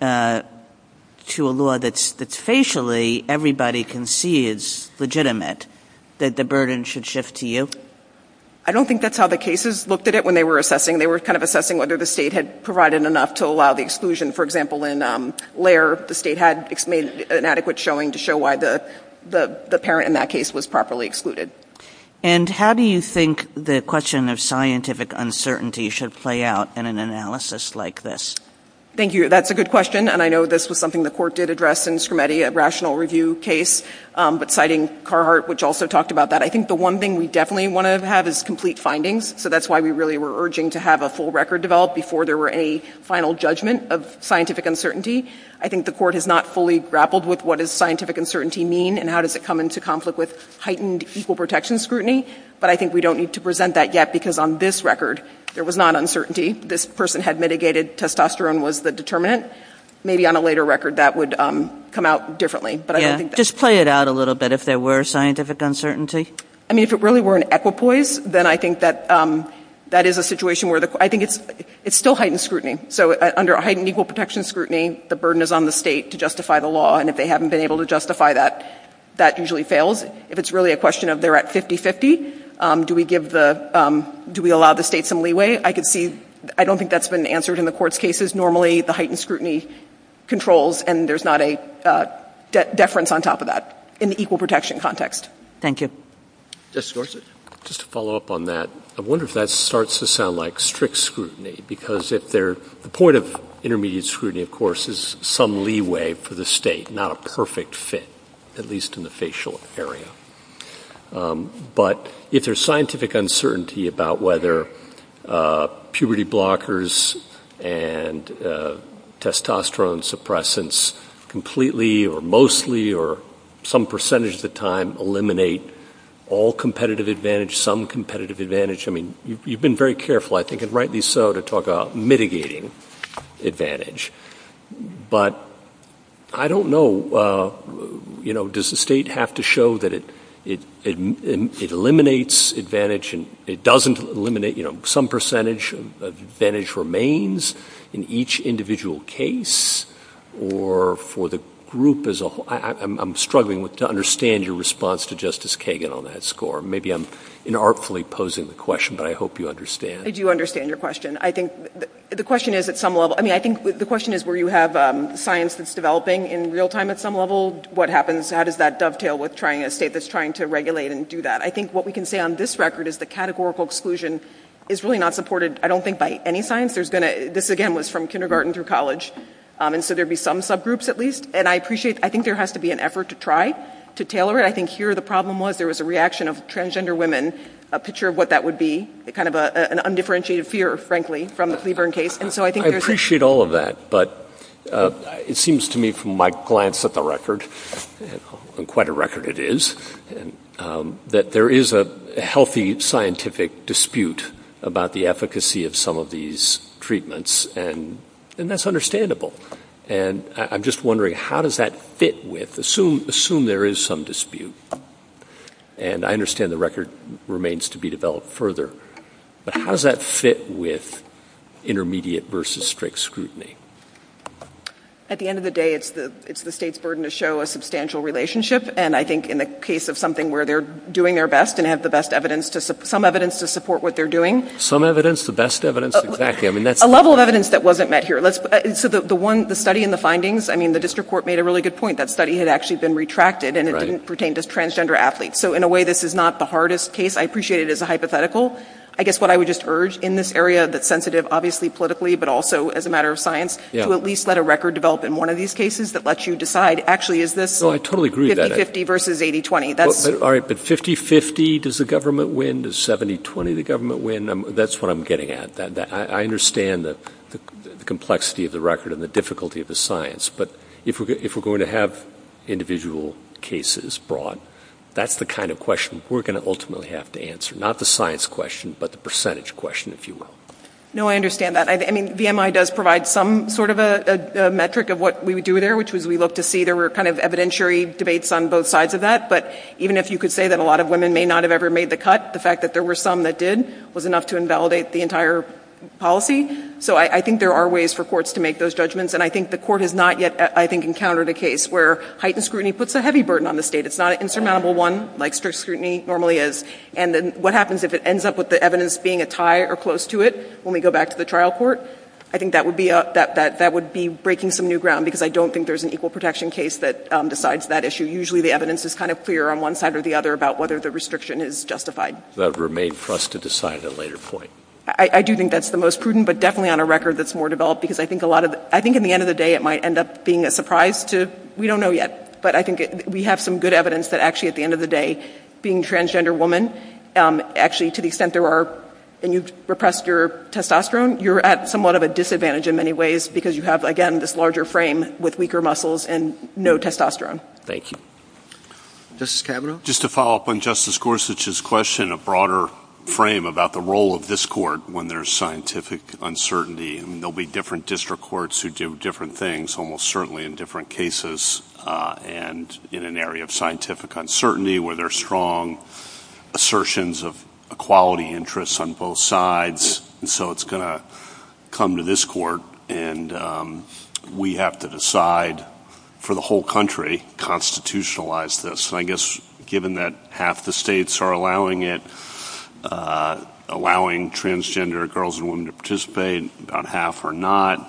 to a law that facially everybody can see is legitimate that the burden should shift to you. I don't think that's how the cases looked at it when they were assessing. They were kind of assessing whether the state had provided enough to allow the exclusion. For example, in LARE, the state had made an adequate showing to show why the parent in that case was properly excluded. And how do you think the question of scientific uncertainty should play out in an analysis like this? Thank you. That's a good question, and I know this was something the court did address in Skrimeti, a rational review case, but citing Carhart, which also talked about that. I think the one thing we definitely want to have is complete findings, so that's why we really were urging to have a full record developed before there were any final judgment of scientific uncertainty. I think the court has not fully grappled with what does scientific uncertainty mean, and how does it come into conflict with heightened equal protection scrutiny, but I think we don't need to present that yet because on this record, there was not question of whether or not the denigrated testosterone was the determinant. Maybe on a later record that would come out differently. Just play it out a little bit if there were scientific uncertainty. I mean, if it really were an equipoise, then I think that is a situation where I think it's still heightened scrutiny. So under heightened equal protection scrutiny, the burden is on the state to justify the law, and if they haven't been able to justify that, that usually fails. If it's really a question of they're at 50-50, do we allow the state some leeway? I don't think that's been answered in the court's cases. Normally the heightened scrutiny controls and there's not a deference on top of that in the equal protection context. Thank you. Just to follow up on that, I wonder if that starts to sound like strict scrutiny because the point of intermediate scrutiny, of course, is some leeway for the state, not a perfect fit, at least in the facial area. But if there's scientific uncertainty about whether puberty blockers and testosterone suppressants completely or mostly or some percentage of the time eliminate all competitive advantage, some competitive advantage, I mean, you've been very careful, I think, and rightly so to talk about mitigating advantage. But I don't know, you know, does the state have to show that it eliminates advantage and it doesn't eliminate some percentage of advantage remains in each individual case or for the group as a whole? I'm struggling to understand your response to Justice Kagan on that score. Maybe I'm inartfully posing the question, but I hope you understand. I do understand your question. I think the question is at some level, I mean, I think the question is where you have science that's developing in real time at some level, what happens? How does that dovetail with trying, a state that's trying to regulate and do that? I think what we can say on this record is the categorical exclusion is really not supported, I don't think, by any science. There's going to, this again was from kindergarten through college, and so there'd be some subgroups at least. And I appreciate, I think there has to be an effort to try to tailor it. I think here the problem was there was a reaction of transgender women, a picture of what that would be, kind of an undifferentiated fear, frankly, from the Cleveland case. I appreciate all of that, but it seems to me from my glance at the record, and quite a record it is, that there is a healthy scientific dispute about the efficacy of some of these treatments, and that's understandable. And I'm just wondering, how does that fit with, assume there is some dispute. And I understand the record remains to be developed further, but how does that fit with intermediate versus strict scrutiny? At the end of the day, it's the state's burden to show a substantial relationship, and I think in the case of something where they're doing their best and have the best evidence, some evidence to support what they're doing. Some evidence, the best evidence, exactly. A level of evidence that wasn't met here. So the one, the study and the findings, I mean, the district court made a really good point. That study had actually been retracted, and it didn't meet the standards. So in a way, this is not the hardest case. I appreciate it as a hypothetical. I guess what I would just urge in this area that's sensitive, obviously, politically, but also as a matter of science, to at least let a record develop in one of these cases that lets you decide, actually, is this 50-50 versus 80-20? All right, but 50-50, does the government win? Does 70-20, the government win? That's what I'm getting at. I understand the complexity of the record and the difficulty of the science, but if we're going to have individual cases brought, that's the kind of question we're going to ultimately have to answer. Not the science question, but the percentage question, if you will. No, I understand that. I mean, VMI does provide some sort of a metric of what we would do there, which is we'd love to see there were kind of evidentiary debates on both sides of that, but even if you could say that a lot of women may not have ever made the cut, the fact that there were some that did was enough to invalidate the entire policy. So I think there are ways for courts to make those judgments, and I think the court has not yet, I think, encountered a case where heightened scrutiny puts a heavy burden on the state. It's not an insurmountable one, like strict scrutiny normally is, and then what happens if it ends up with the evidence being a tie or close to it when we go back to the trial court? I think that would be breaking some new ground, because I don't think there's an equal protection case that decides that issue. Usually the evidence is kind of clear on one side or the other about whether the restriction is justified. That remains for us to decide at a later point. I do think that's the most prudent, but definitely on a record that's more developed, because I think in the end of the day it might end up being a surprise to, we don't know yet, but I think we have some good evidence that actually at the end of the day, being a transgender woman, actually to the extent there are, and you've repressed your testosterone, you're at somewhat of a disadvantage in many ways, because you have, again, this larger frame with weaker muscles and no testosterone. Thank you. Justice Kavanaugh? Just to follow up on Justice Gorsuch's question, a broader frame about the role of this court when there's scientific uncertainty. There'll be different district courts who do different things, almost certainly in different cases, and in an area of scientific uncertainty where there's strong assertions of equality interests on both sides, and so it's going to come to this court and we have to decide for the whole country, constitutionalize this. I guess, given that half the states are allowing it, allowing transgender girls and women to participate, about half are not,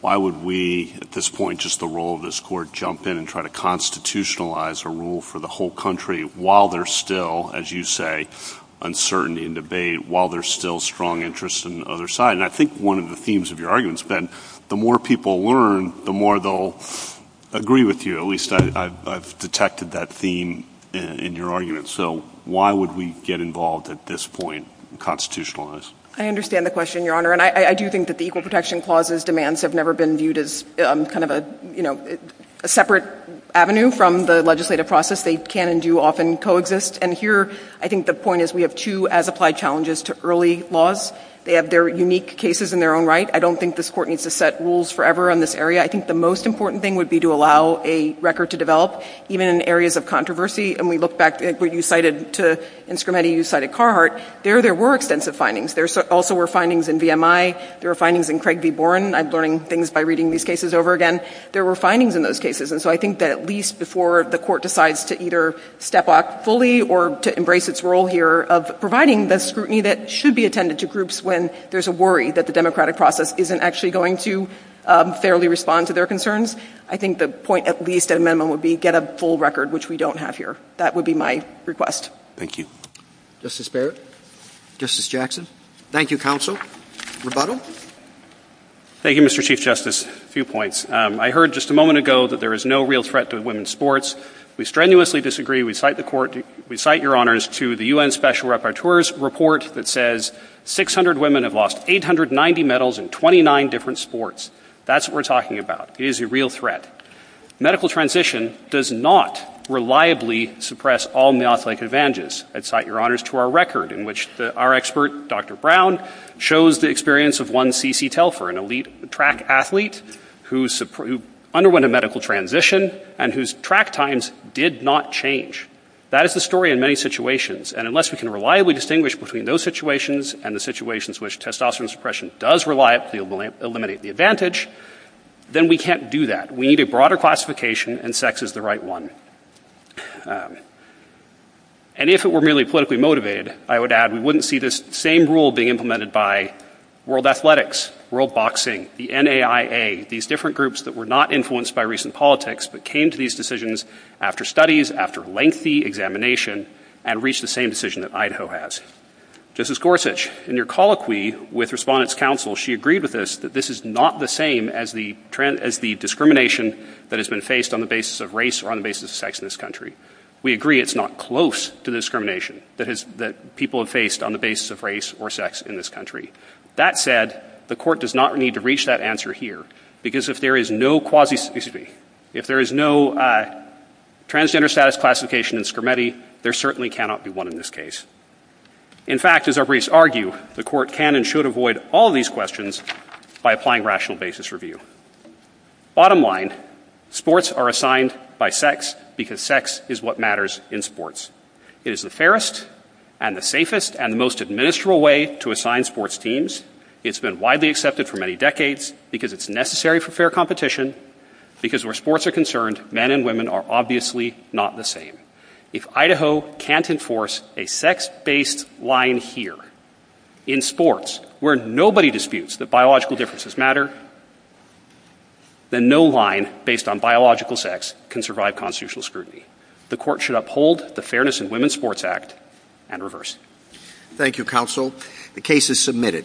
why would we, at this point, just the role of this court, jump in and try to constitutionalize a rule for the whole country while there's still, as you say, uncertainty and debate, while there's still strong interests on the other side? And I think one of the themes of your argument's been, the more people learn, the more they'll agree with you, at least I've detected that theme in your argument. So why would we get involved at this point and constitutionalize? I understand the question, Your Honor, and I do think that the Equal Protection Clause's demands have never been viewed as a separate avenue from the legislative process. They can and do often coexist, and here I think the point is we have two as-applied challenges to early laws. They have their unique cases in their own right. I don't think this court needs to set rules forever in this area. I think the most important thing would be to allow a record to develop, even in areas of controversy, and we look back, where you cited, Insgrametti, you cited Carhartt, there were extensive findings. There also were findings in VMI. There were findings in Craig v. Boren. I'm learning things by reading these cases over again. There were findings in those cases, and so I think that at least before the court decides to either step off fully or to embrace its role here of providing the scrutiny that should be attended to groups when there's a worry that the democratic process isn't actually going to fairly respond to their concerns, I think the point at least amendment would be get a full record, which we don't have here. That would be my request. Thank you. Justice Barrett? Justice Jackson? Thank you, counsel. Rebuttal? Thank you, Mr. Chief Justice. A few points. I heard just a moment ago that there is no real threat to women's sports. We strenuously disagree. We cite the court, we cite your honors to the U.N. Special Rapporteur's report that says 600 women have lost 890 medals in 29 different sports. That's what we're talking about. It is a real threat. Medical transition does not reliably suppress all athletic advantages. I'd cite your honors to our record in which our expert, Dr. Brown, shows the experience of one C.C. Telfer, an elite track athlete who underwent a medical transition and whose track times did not change. That is the story in many situations, and unless we can reliably distinguish between those situations and the situations in which testosterone suppression does reliably eliminate the advantage, then we can't do that. We need a broader classification, and sex is the right one. And if it were merely politically motivated, I would add we wouldn't see this same rule being implemented by World Athletics, World Boxing, the NAIA, these different groups that were not influenced by recent politics but came to these decisions after studies, after lengthy examination, and reached the same decision that Idaho has. Justice Gorsuch, in your analysis, that this is not the same as the discrimination that has been faced on the basis of race or on the basis of sex in this country. We agree it's not close to the discrimination that people have faced on the basis of race or sex in this country. That said, the Court does not need to reach that answer here, because if there is no quasi-specify, if there is no transgender status classification in Skermeti, there certainly cannot be one in this case. In fact, as our briefs argue, the Court can and should avoid all these questions by applying rational basis review. Bottom line, sports are assigned by sex because sex is what matters in sports. It is the fairest and the safest and the most administral way to assign sports teams. It's been widely accepted for many decades because it's necessary for fair competition because where sports are concerned, men and women are obviously not the same. If Idaho can't enforce a sex-based line here in sports where nobody disputes that biological differences matter, then no line based on biological sex can survive constitutional scrutiny. The Court should uphold the Fairness in Women's Sports Act and reverse it. Thank you, Counsel. The case is submitted.